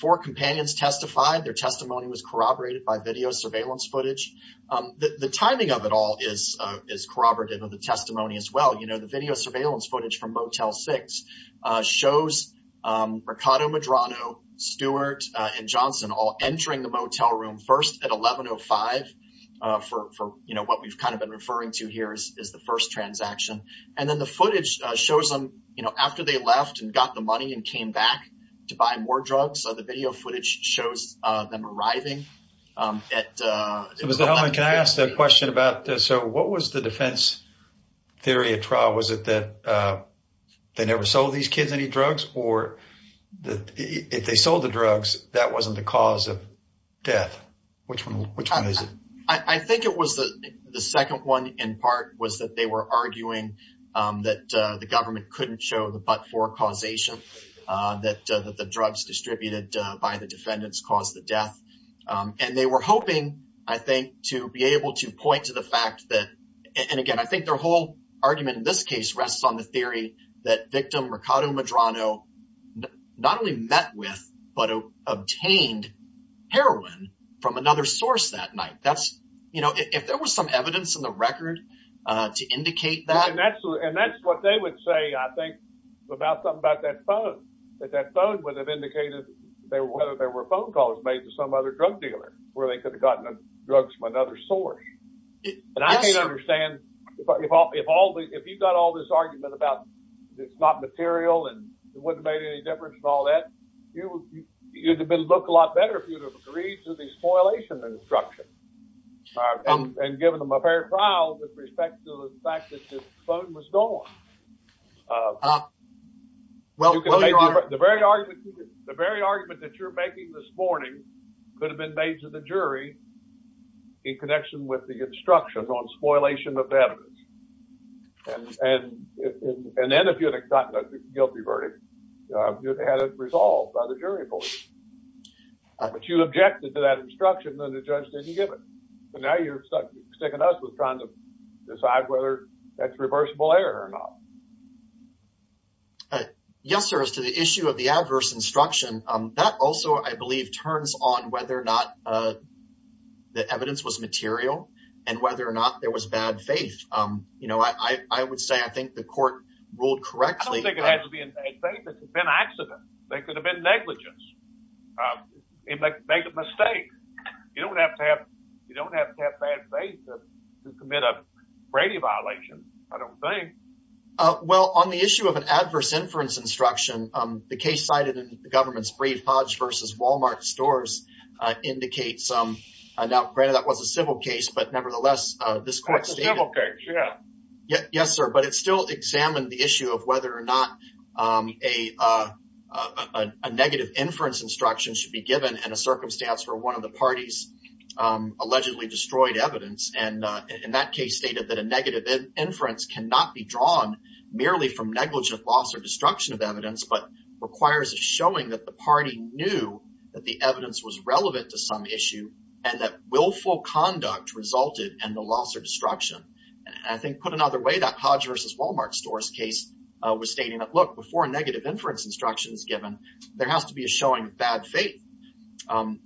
four companions testified, their testimony was corroborated by video surveillance footage. The timing of it all is corroborated with the testimony as well. The video surveillance footage from Motel 6 shows Mercado Medrano, Stewart, and Johnson all entering the motel room first at 11.05 for what we've kind of been referring to here as the first transaction. And then the footage shows them after they left and got the money and came back to buy more drugs. So the video footage shows them arriving at- Mr. Hellman, can I ask a question about this? So what was the defense theory at trial? Was it that they never sold these kidney drugs or that if they sold the drugs, that wasn't the cause of death? Which one is it? I think it was the second one in part was that they were arguing that the government couldn't show the but-for causation, that the drugs distributed by the defendants caused the death. And they were hoping, I think, to be able to point to the fact that- and again, I think their whole argument in this case rests on the theory that victim Mercado Medrano not only met with, but obtained heroin from another source that night. That's- you know, if there was some evidence in the record to indicate that- And that's what they would say, I think, about something about that phone, that that phone would have indicated that there were phone calls made to some other drug dealer where they could have gotten drugs from another source. And I can't understand if all- if you've got all this argument about it's not material and it wouldn't have made any difference and all that, it would have been looked a lot better if you had agreed to the spoilation instruction and given them a fair trial with respect to the fact that the phone was gone. The very argument that you're making this morning could have been made to the jury in connection with the instruction on spoilation of evidence. And then if you'd have gotten a guilty verdict, you'd have had it resolved by the jury. But you objected to that instruction and the judge didn't give it. So now you're sticking us with trying to decide whether that's reversible error or not. Yes, sir. As to the issue of the adverse instruction, that also, I believe, turns on whether or not the evidence was material and whether or not there was bad faith. You know, I would say I think the court ruled correctly- I don't think it had to be in bad faith. It could have been accident. There could have been negligence. It made a mistake. You don't have to have- you don't have to have bad faith to commit a crime. I don't think. Well, on the issue of an adverse inference instruction, the case cited in the government's brief, Hodge v. Walmart stores, indicates- now, granted that was a civil case, but nevertheless, this court- It's a civil case, yeah. Yes, sir. But it still examined the issue of whether or not a negative inference instruction should be given in a circumstance where one of the parties allegedly destroyed evidence. And in that case stated that a negative inference cannot be drawn merely from negligent loss or destruction of evidence, but requires a showing that the party knew that the evidence was relevant to some issue and that willful conduct resulted in the loss or destruction. And I think, put another way, that Hodge v. Walmart stores case was stating that, look, before a negative inference instruction is given, there has to be a showing of bad faith.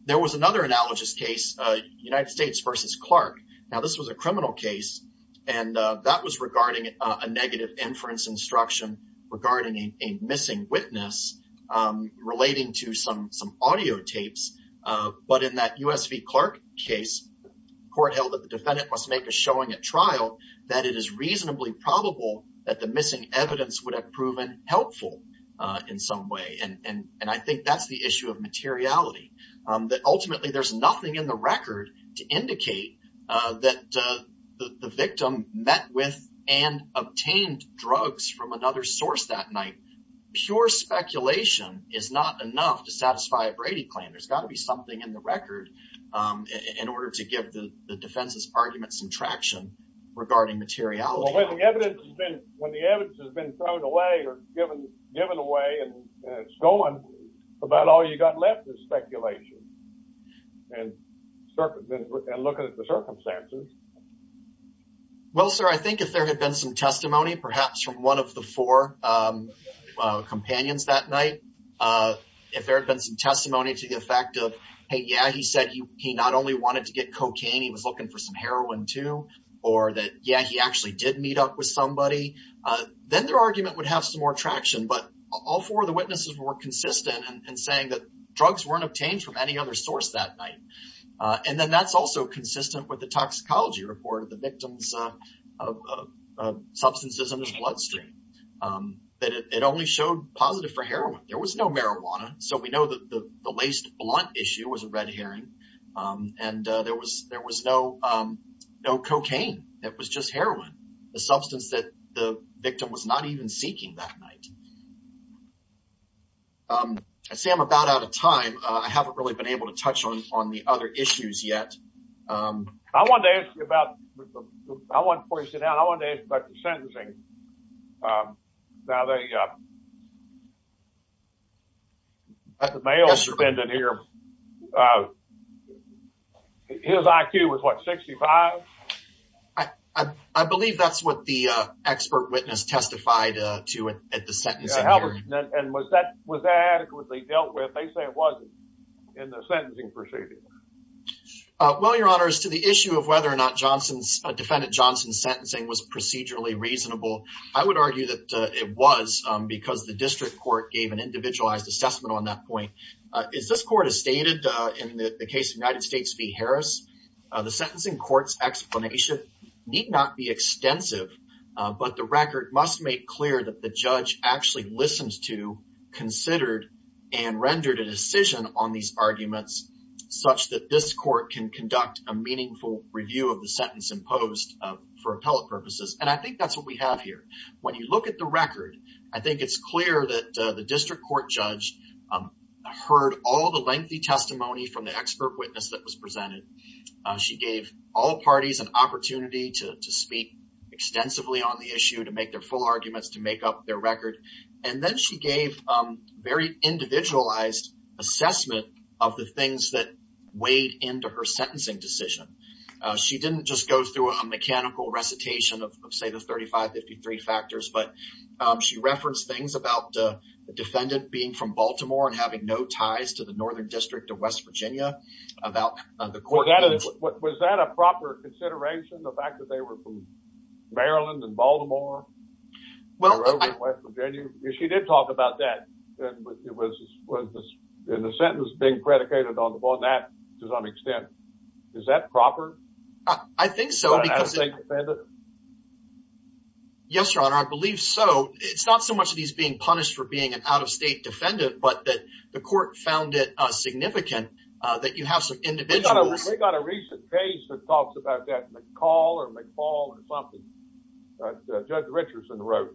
There was another analogous case, United States v. Clark. Now, this was a criminal case and that was regarding a negative inference instruction regarding a missing witness relating to some audio tapes. But in that U.S. v. Clark case, the court held that the defendant must make a showing at trial that it is reasonably probable that the missing evidence would have proven helpful in some way. And I think that's issue of materiality, that ultimately there's nothing in the record to indicate that the victim met with and obtained drugs from another source that night. Sure, speculation is not enough to satisfy a Brady plan. There's got to be something in the record in order to give the defense's argument some traction regarding materiality. When the evidence has been thrown away or given away and stolen, about all you've got left is speculation and looking at the circumstances. Well, sir, I think if there had been some testimony, perhaps from one of the four companions that night, if there had been some testimony to the effect of, hey, yeah, he said he not only wanted to get cocaine, he was looking for some heroin too, or that, yeah, he actually did meet up with somebody, then their argument would have some more traction. But all four of the witnesses were consistent in saying that drugs weren't obtained from any other source that night. And then that's also consistent with the toxicology report of the victim's substances in the bloodstream, that it only showed positive for heroin. There was no heroin, the substance that the victim was not even seeking that night. I say I'm about out of time. I haven't really been able to touch on the other issues yet. I wanted to ask you about, before you sit down, I wanted to ask you about the sentencing. Now, the male defendant here, his IQ was, what, 65? I believe that's what the expert witness testified to at the sentencing. And was that adequately dealt with? They say it wasn't in the sentencing procedure. Well, your honors, to the issue of whether or not defendant Johnson's sentencing was procedurally reasonable, I would argue that it was because the district court gave an individualized assessment on that point. As this court has stated in the case of United States v. Harris, the sentencing court's explanation need not be extensive, but the record must make clear that the judge actually listens to, considered, and rendered a decision on these arguments such that this court can conduct a meaningful review of the sentence imposed for appellate purposes. And I think that's what we have here. When you look at the record, I think it's clear that the district court judge heard all the lengthy testimony from the expert witness that was presented. She gave all parties an opportunity to speak extensively on the issue, to make their full arguments, to make up their record. And then she gave very individualized assessment of the things that weighed into her sentencing decision. She didn't just go through a mechanical recitation of, say, the 35-53 factors, but she referenced things about the defendant being from Baltimore and having no ties to the Northern District of West Virginia. Was that a proper consideration, the fact that they were from Maryland and Baltimore? Well, she did talk about that. It was in the sentence being predicated on that to some extent. Is that proper? I think so. Yes, your honor, I believe so. It's not so much that he's being punished for being an out-of-state defendant, but that the court found it significant that you have some individual... They got a recent case that talks about that, McCall or McFall or something, that Judge Richardson wrote.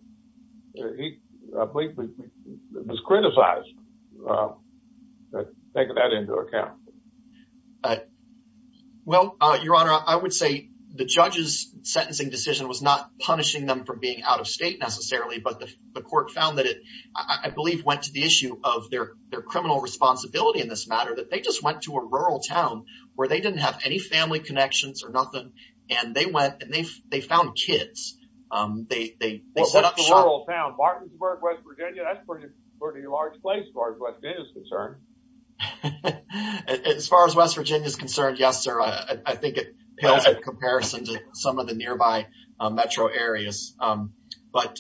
He was criticized for taking that into account. Well, your honor, I would say the judge's sentencing decision was not punishing them for being out-of-state necessarily, but the court found that it, I believe, went to the issue of their criminal responsibility in this matter, that they just went to a rural town where they didn't have any family connections or nothing, and they found kids. Well, that's a rural town, Martinsburg, West Virginia. That's a pretty large place as far as West Virginia's concerned. As far as West Virginia's concerned, yes, sir. I think in comparison to some of the nearby metro areas. But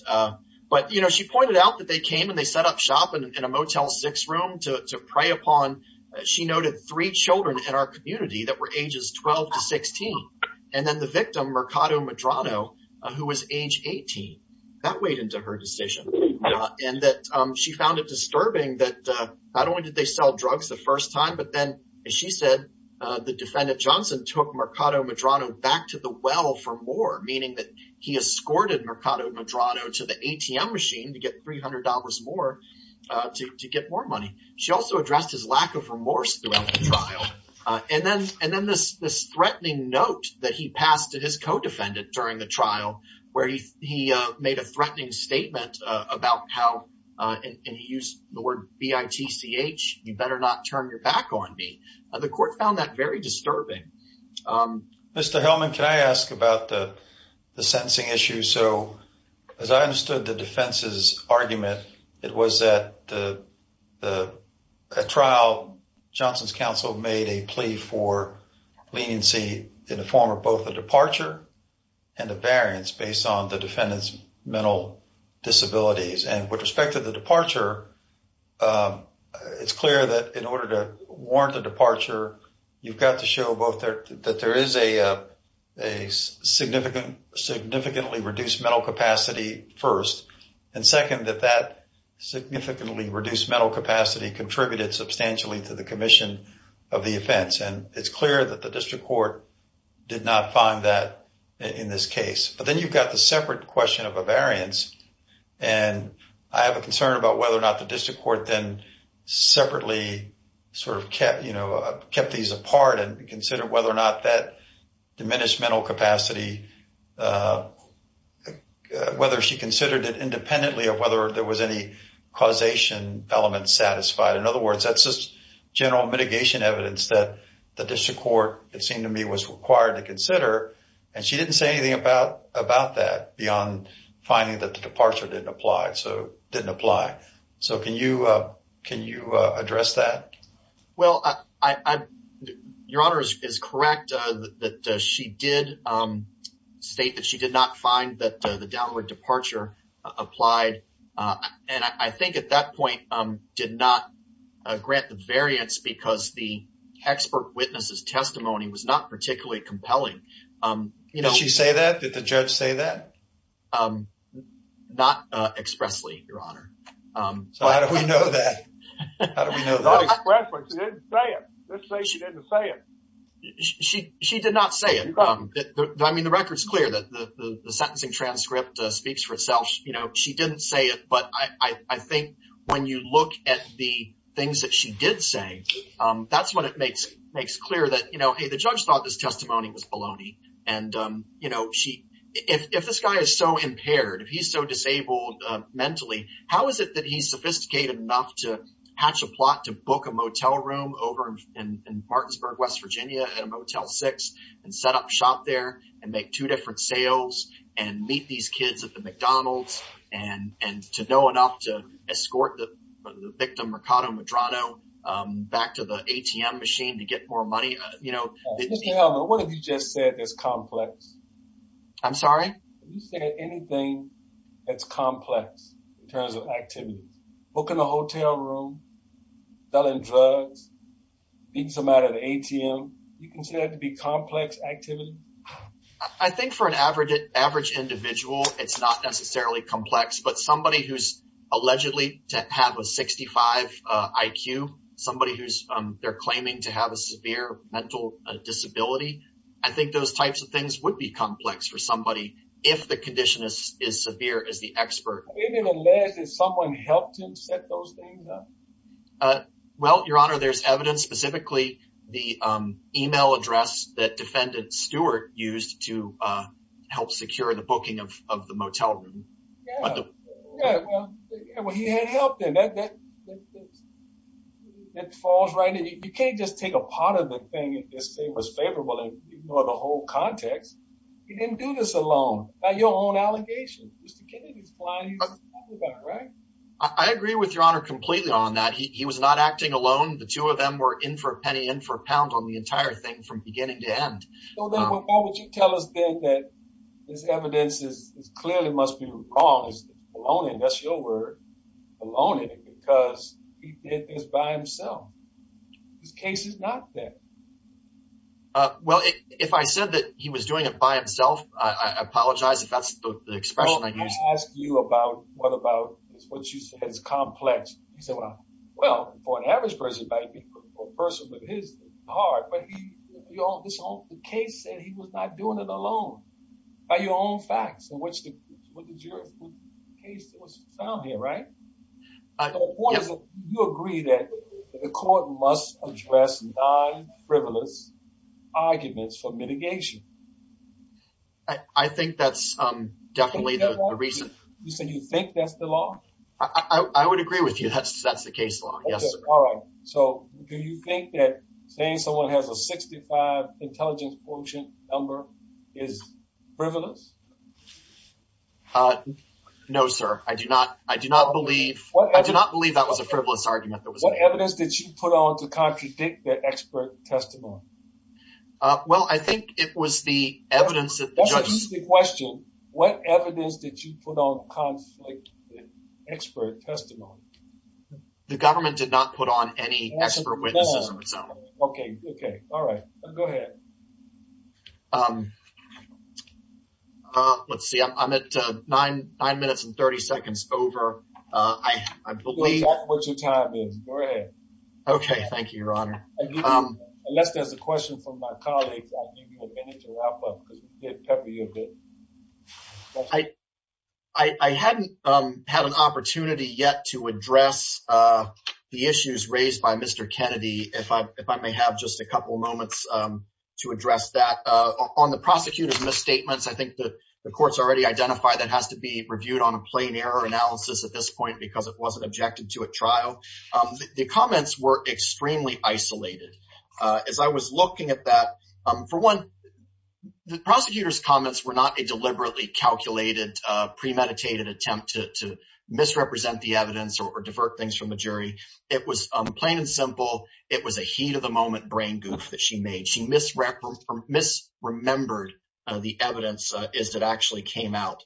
she pointed out that they came and they set up shop in a Motel 6 room to prey 12 to 16, and then the victim, Mercado Medrano, who was age 18, that weighed into her decision, and that she found it disturbing that not only did they sell drugs the first time, but then, as she said, the defendant Johnson took Mercado Medrano back to the well for more, meaning that he escorted Mercado Medrano to the ATM machine to get $300 more to get more money. She also addressed his lack of remorse during the trial, and then this threatening note that he passed to his co-defendant during the trial, where he made a threatening statement about how, and he used the word B-I-T-C-H, you better not turn your back on me. The court found that very disturbing. Mr. Hellman, can I ask about the sentencing issue? So, as I understood the defense's trial, Johnson's counsel made a plea for leniency in the form of both the departure and the variance based on the defendant's mental disabilities. And with respect to the departure, it's clear that in order to warrant the departure, you've got to show both that there is a significantly reduced mental capacity first, and second, that that significantly reduced mental capacity contributed substantially to the commission of the offense. And it's clear that the district court did not find that in this case. But then you've got the separate question of a variance, and I have a concern about whether or not the district court then separately sort of kept these apart and considered whether or not that diminished mental capacity, whether she considered it independently of whether there was any causation element satisfied. In other words, that's just general mitigation evidence that the district court, it seemed to me, was required to consider. And she didn't say anything about that beyond finding that the departure didn't apply. So, it didn't apply. So, can you address that? Well, Your Honor is correct that she did state that she did not find that the downward departure applied. And I think at that point, did not grant the variance because the expert witness's testimony was not particularly compelling. Did she say that? Did the judge say that? Not expressly, Your Honor. How do we know that? Not expressly. She didn't say it. Let's say she didn't say it. She did not say it. I mean, the record's clear that the sentencing transcript speaks for itself. You know, she didn't say it. But I think when you look at the things that she did say, that's when it makes clear that, you know, hey, the judge thought this testimony was baloney. And, you know, if this guy is so impaired, if he's so disabled mentally, how is it that he's sophisticated enough to hatch a plot to book a motel room over in Martinsburg, West Virginia, in a Motel 6, and set up shop there, and make two different sales, and meet these kids at the McDonald's, and to know enough to escort the victim, Ricardo Medrano, back to the ATM machine to get more money? You know, can you say anything that's complex in terms of activity? Booking a hotel room, selling drugs, beating someone out of the ATM, do you consider that to be complex activity? I think for an average individual, it's not necessarily complex. But somebody who's allegedly to have a 65 IQ, somebody who's, they're claiming to have a severe mental disability, I think those types of things would be complex for somebody, if the condition is severe, as the expert. Well, Your Honor, there's evidence, specifically the email address that defendant Stewart used to help secure the booking of the motel room. Even though the whole context, he didn't do this alone, by your own allegations. I agree with Your Honor completely on that. He was not acting alone. The two of them were in for a penny, in for a pound on the entire thing, from beginning to end. So then why would you tell us then that this evidence is clearly, must be recalled as baloney, and that's your word, baloney, because he did this by himself. This case is not fair. Well, if I said that he was doing it by himself, I apologize if that's the expression that you- Well, let me ask you about, what about, what you said is complex. You said, well, well, for an average person, a person with his heart, but he, this case, he was not doing it alone, by your own facts, in which the case was found here, right? You agree that the court must address non-frivolous arguments for mitigation. I think that's definitely the reason. Do you think that's the law? I would agree with you that that's the case law, yes, sir. All right. So do you think that saying someone has a 65 intelligence fortune number is frivolous? No, sir. I do not believe that was a frivolous argument that was made. What evidence did you put on to contradict the expert testimony? Well, I think it was the evidence that the judge- That's the question. What evidence did you put on to contradict the expert testimony? The government did not put on any expert witnesses, no. Okay. Okay. All right. Go ahead. Let's see. I'm at nine minutes and 30 seconds over. I believe- That's what your time is. Go ahead. Okay. Thank you, Ron. Unless there's a question from my colleague, I'll give you a minute to wrap up. I hadn't had an opportunity yet to address the issues raised by Mr. Kennedy, if I may have just a couple moments to address that. On the prosecutor's misstatements, I think the court's already identified that has to be reviewed on a plain error analysis at this point because it wasn't objected to at trial. The comments were extremely isolated. As I was looking at that, for one, the prosecutor's comments were not a deliberately calculated premeditated attempt to misrepresent the evidence or divert things from the jury. It was plain and simple. It was a heat of the moment brain goop that she made. She misremembered the evidence as it actually came out.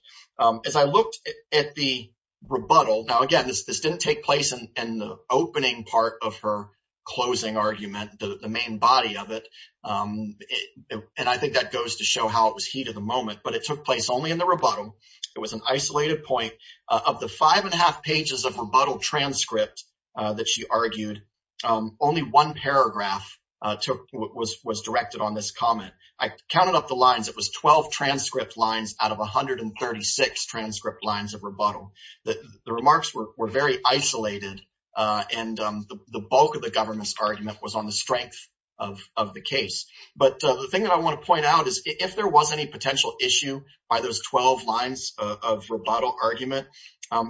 As I looked at the rebuttal, now again, this didn't take place in the opening part of her closing argument, the main body of it. I think that goes to show how it was heat of the moment, but it took place only in the rebuttal. It was an isolated point. Of the five and a half pages of rebuttal transcript that she argued, only one paragraph was directed on this comment. I counted up the lines. It was 12 transcript lines out of 136 transcript lines of rebuttal. The remarks were very isolated. The bulk of the government's argument was on the strength of the case. The thing that I want to point out is if there was any potential issue by those 12 lines of rebuttal argument,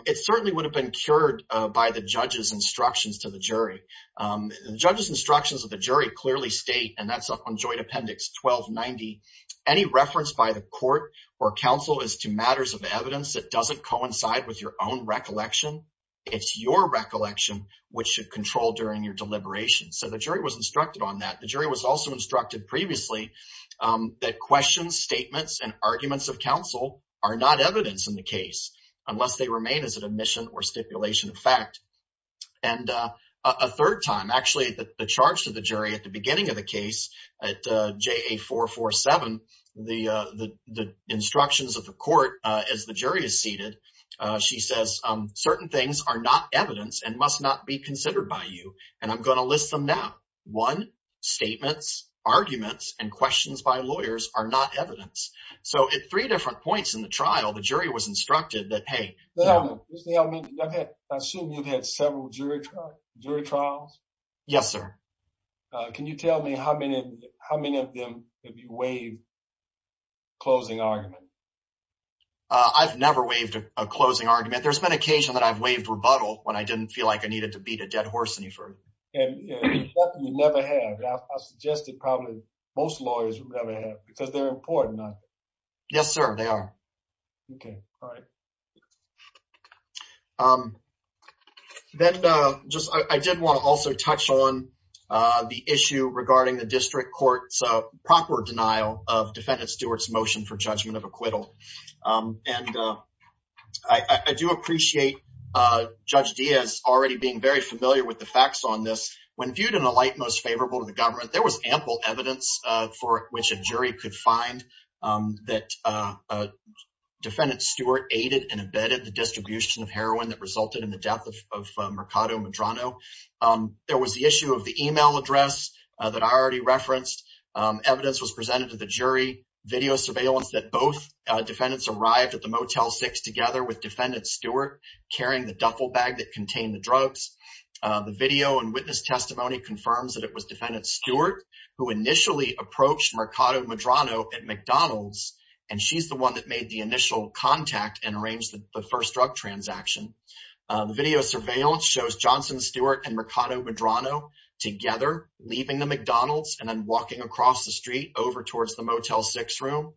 it certainly would have been cured by the judge's instructions to the jury. The judge's instructions of the jury clearly state, and that's up on joint appendix 1290, any reference by the court or counsel as to matters of evidence that doesn't coincide with your own recollection, it's your recollection which should control during your deliberation. The jury was instructed on that. The jury was also instructed previously that questions, statements, and arguments of counsel are not evidence in the case unless they remain as an admission or stipulation of fact. A third time, actually, the charge to the jury at the beginning of the case, at JA447, the instructions of the court as the jury is seated, she says certain things are not evidence and must not be considered by you. I'm going to list them now. One, statements, arguments, and questions by lawyers are not evidence. At three different points in the trial, the jury was instructed that, hey, listen to me, I assume you've had several jury trials? Yes, sir. Can you tell me how many of them have you waived closing argument? I've never waived a closing argument. There's been occasion that I've waived rebuttal when I didn't feel like I needed to beat a dead horse any further. And it's something you never have. I suggest that probably most lawyers never have because they're important. Yes, sir. They are. Okay. All right. Then I did want to also touch on the issue regarding the district court's proper denial of Defendant Stewart's motion for judgment of acquittal. And I do appreciate Judge Diaz already being very familiar with the facts on this. When viewed in a light most favorable to the government, there was ample evidence for which a jury could find that Defendant Stewart aided and abetted the distribution of heroin that resulted in the death of Mercado Medrano. There was the issue of the email address that I already referenced. Evidence was presented to the jury, video surveillance that both defendants arrived at the Motel 6 together with Defendant Stewart carrying the duffel bag that contained the drugs. The video and witness testimony confirms that it was Defendant Stewart who initially approached Mercado Medrano at McDonald's and she's the one that made the initial contact and arranged the first drug transaction. The video surveillance shows Johnson Stewart and Mercado Medrano together leaving the McDonald's and then walking across the street over towards the Motel 6 room.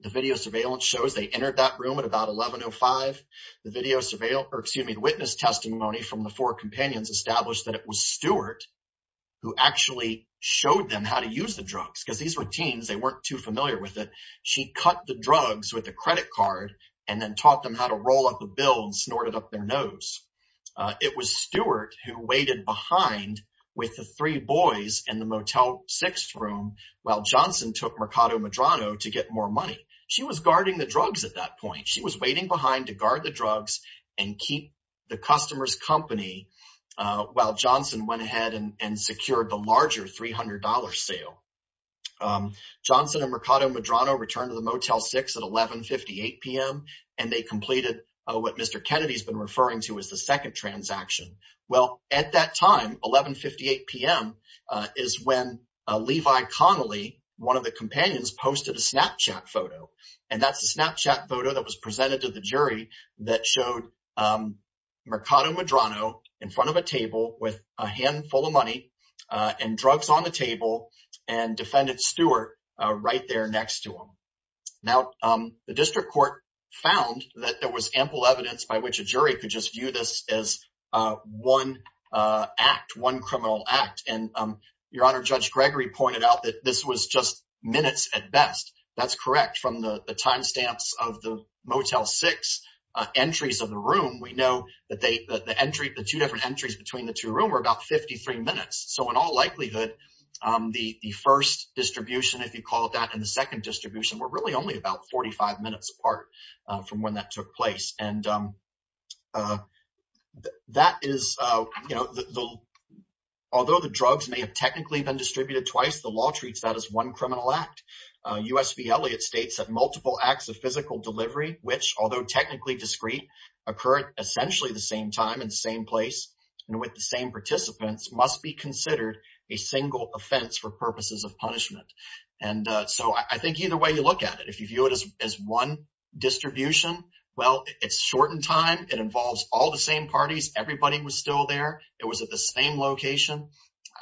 The video surveillance shows they entered that room at about 11.05. The video surveillance, excuse me, witness testimony from the four companions established that it was Stewart who actually showed them how to use the drugs because these were teens, they weren't too familiar with it. She cut the drugs with a credit card and then taught them how to roll up a bill and snort it up their nose. It was Stewart who waited behind with the three boys in the Motel 6 room while Johnson took Mercado Medrano to get more money. She was guarding the drugs at that point. She was waiting behind to guard the drugs and keep the customer's company while Johnson went ahead and secured the larger $300 sale. Johnson and Mercado Medrano returned to the Motel 6 at 11.58 p.m. and they completed what Mr. Kennedy has been referring to as the second transaction. Well, at that time, 11.58 p.m. is when Levi Connelly, one of the companions, posted a Snapchat photo. That's a Snapchat photo that was presented to the jury that showed Mercado Medrano in front of a table with a handful of money and drugs on the table and defendant Stewart right there next to him. Now, the district court found that there was ample evidence by which a jury could just view this as one act, one criminal act. Your Honor, Judge Gregory pointed out that this was just minutes at best. That's correct. From the time stamps of the Motel 6 entries of the room, we know that the two different entries between the two rooms were about 53 minutes. In all likelihood, the first distribution, if you call it that, and the second distribution were really only about 45 minutes apart from when that took place. Although the drugs may have technically been distributed twice, the law treats that as one criminal act. U.S. v. Elliott states that multiple acts of physical delivery, which, although technically discrete, occurred essentially at the same time in the same place and with the same participants, must be considered a single offense for purposes of punishment. I think either way you look at it, if you view it as one distribution, well, it's short in time. It involves all the same parties. Everybody was still there. It was at the same location.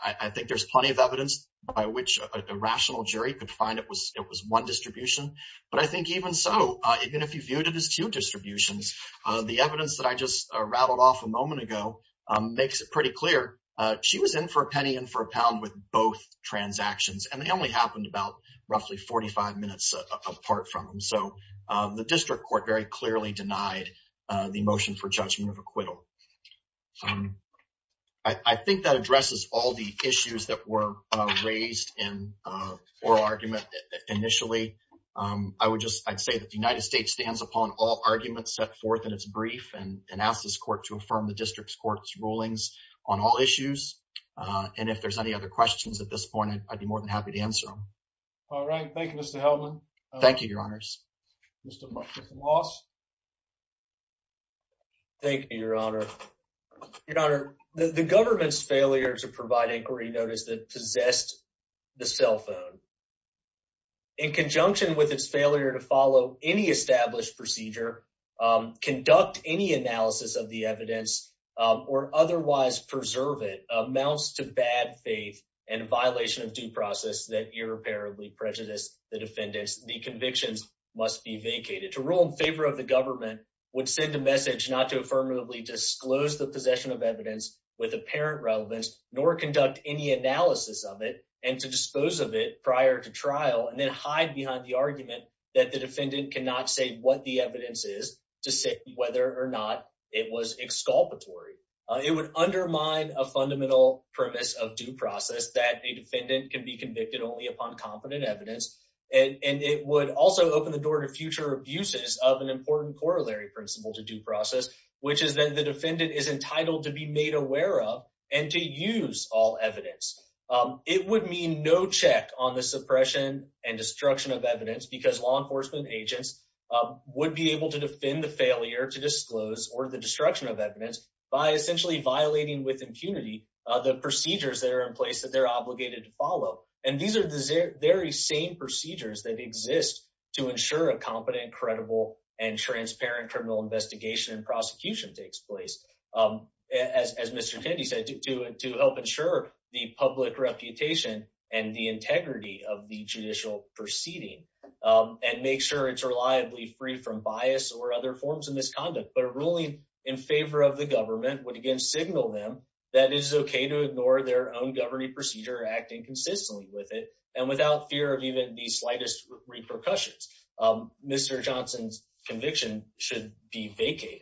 I think there's plenty of evidence by which a rational jury could find it was one distribution. But I think even so, even if you view it as two distributions, the evidence that I just rattled off a moment ago makes it pretty clear. She was in for a penny and for a pound with both transactions, and they only happened about roughly 45 minutes apart from them. The district court very clearly denied the motion for judgment of acquittal. I think that addresses all the issues that were raised in oral argument initially. I would say that the United States stands upon all arguments set forth in its brief and asks this court to affirm the district court's rulings on all issues. And if there's any other questions at this point, I'd be more than happy to answer them. All right. Thank you, Mr. Hellman. Thank you, Your Honors. Mr. Moss. Thank you, Your Honor. Your Honor, the government's failure to provide inquiry notice that possessed the cell phone, in conjunction with its failure to follow any established procedure, conduct any analysis of the evidence, or otherwise preserve it, amounts to bad faith and violation of due process that irreparably prejudice the defendant. The convictions must be vacated. To rule in favor of the government would send a message not to affirmatively disclose the possession of evidence with apparent relevance, nor conduct any analysis of it and to dispose of it prior to trial, and then hide behind the argument that the defendant cannot say what the evidence is to say whether or not it was exculpatory. It would undermine a fundamental premise of due process that a defendant can be convicted only upon confident evidence, and it would also open the door to future abuses of an important corollary principle to due process, which is that the defendant is entitled to be made aware of and to use all evidence. It would mean no check on the suppression and destruction of evidence because law enforcement agents would be able to defend the failure to disclose or the destruction of evidence by essentially violating with impunity the procedures that are in place that they're obligated to follow, and these are the very same procedures that exist to ensure a competent, credible, and transparent criminal investigation and prosecution takes place, as Mr. Kennedy said, to help ensure the public reputation and the integrity of the judicial proceeding and make sure it's reliably free from bias or other forms of misconduct. But a ruling in favor of the government would again signal them that it is okay to ignore their own governing procedure, acting consistently with it, and without fear of even the slightest repercussions. Mr. Johnson's conviction should be vacated.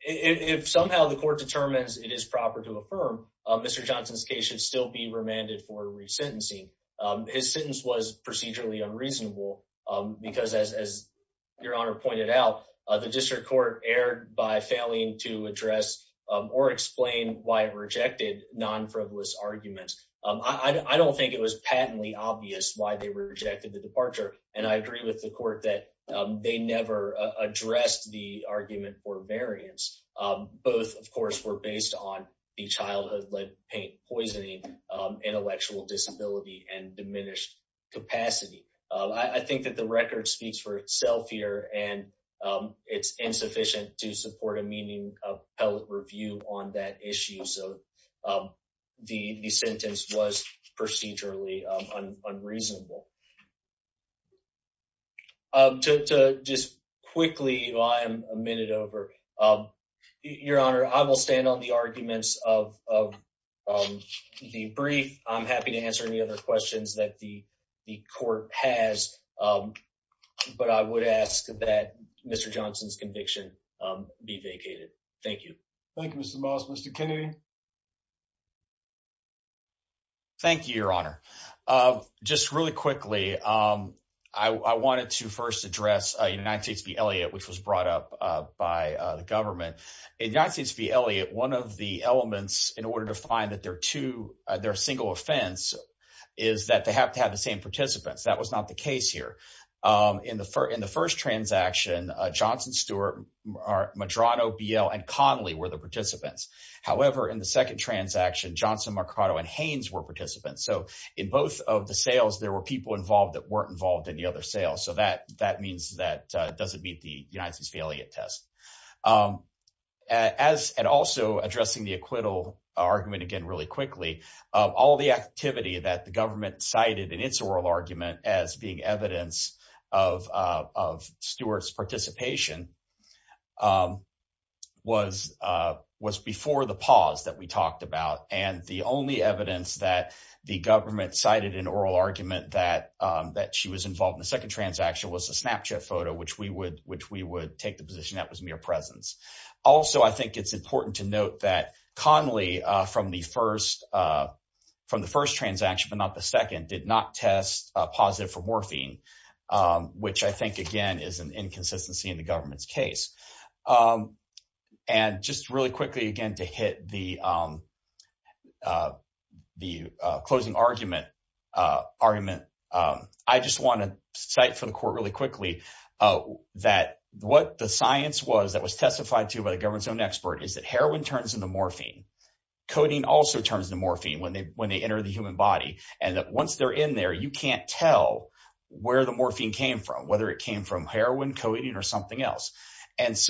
If somehow the court determines it is proper to affirm, Mr. Johnson's case should still be remanded for resentencing. His sentence was procedurally unreasonable because, as Your Honor pointed out, the district court erred by failing to address or explain why it rejected non-frivolous arguments. I don't think it was patently obvious why they rejected the departure, and I agree with the court that they never addressed the argument for variance. Both, of course, were based on the childhood-led paint poisoning, intellectual disability, and diminished capacity. I think that the record speaks for itself here, and it's insufficient to support a meaningful public review on that issue. So the sentence was procedurally unreasonable. To just quickly, you know, I am a minute over. Your Honor, I will stand on the arguments of the brief. I am happy to answer any other questions that the court has, but I would ask that Mr. Johnson's conviction be vacated. Thank you. Thank you, Mr. Miles. Mr. Kennedy? Thank you, Your Honor. Just really quickly, I wanted to first address Enactees v. Elliott, which was brought up by the government. Enactees v. Elliott, one of the elements in order to find that they're a single offense is that they have to have the same participants. That was not the case here. In the first transaction, Johnson, Stewart, Medrano, Beal, and Conley were the participants. However, in the second transaction, Johnson, Mercado, and Haynes were participants. So in both of the sales, there were people involved that weren't involved in the other sales, so that means that it doesn't meet the Enactees v. Elliott test. And also, addressing the acquittal argument again really quickly, all the activity that the government cited in its oral argument as being evidence of Stewart's participation was before the pause that we talked about. And the only evidence that the government cited in oral argument that she was involved in the second transaction was a Snapchat photo, which we would take the position that was mere presence. Also, I think it's important to note that Conley from the first transaction, but not the second, did not test positive for morphine, which I think, again, is an inconsistency in the government's case. And just really quickly again to hit the closing argument, I just want to cite to the court really quickly that what the science was that was testified to by the government's own expert is that heroin turns into morphine. Codeine also turns into morphine when they enter the human body, and that once they're in there, you can't tell where the morphine came from, whether it came from heroin, codeine, or something else. And that's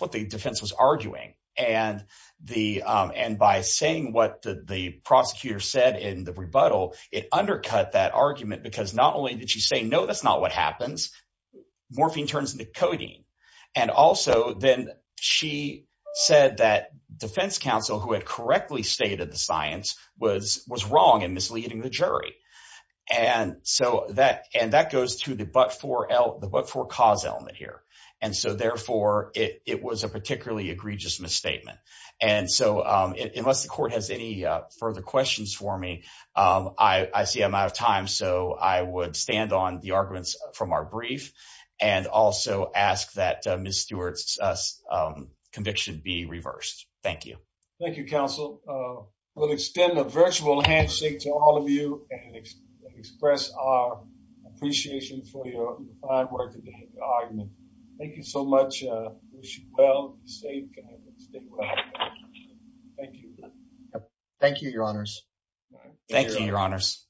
what the defense was arguing. And by saying what the prosecutor said in the rebuttal, it undercut that argument because not only did she say, no, that's not what happens, morphine turns into codeine. And also then she said that defense counsel who had correctly stated the science was wrong in misleading the jury. And that goes to the but-for-cause element here. And so, therefore, it was a particularly egregious misstatement. And so, unless the court has any further questions for me, I see I'm out of time, so I would stand on the arguments from our brief and also ask that Ms. Stewart's conviction be reversed. Thank you. Thank you, counsel. We'll extend a virtual handshake to all of you and express our appreciation for your fine work in the argument. Thank you so much. Wish you well, be safe. Thank you. Thank you, your honors. Thank you, your honors.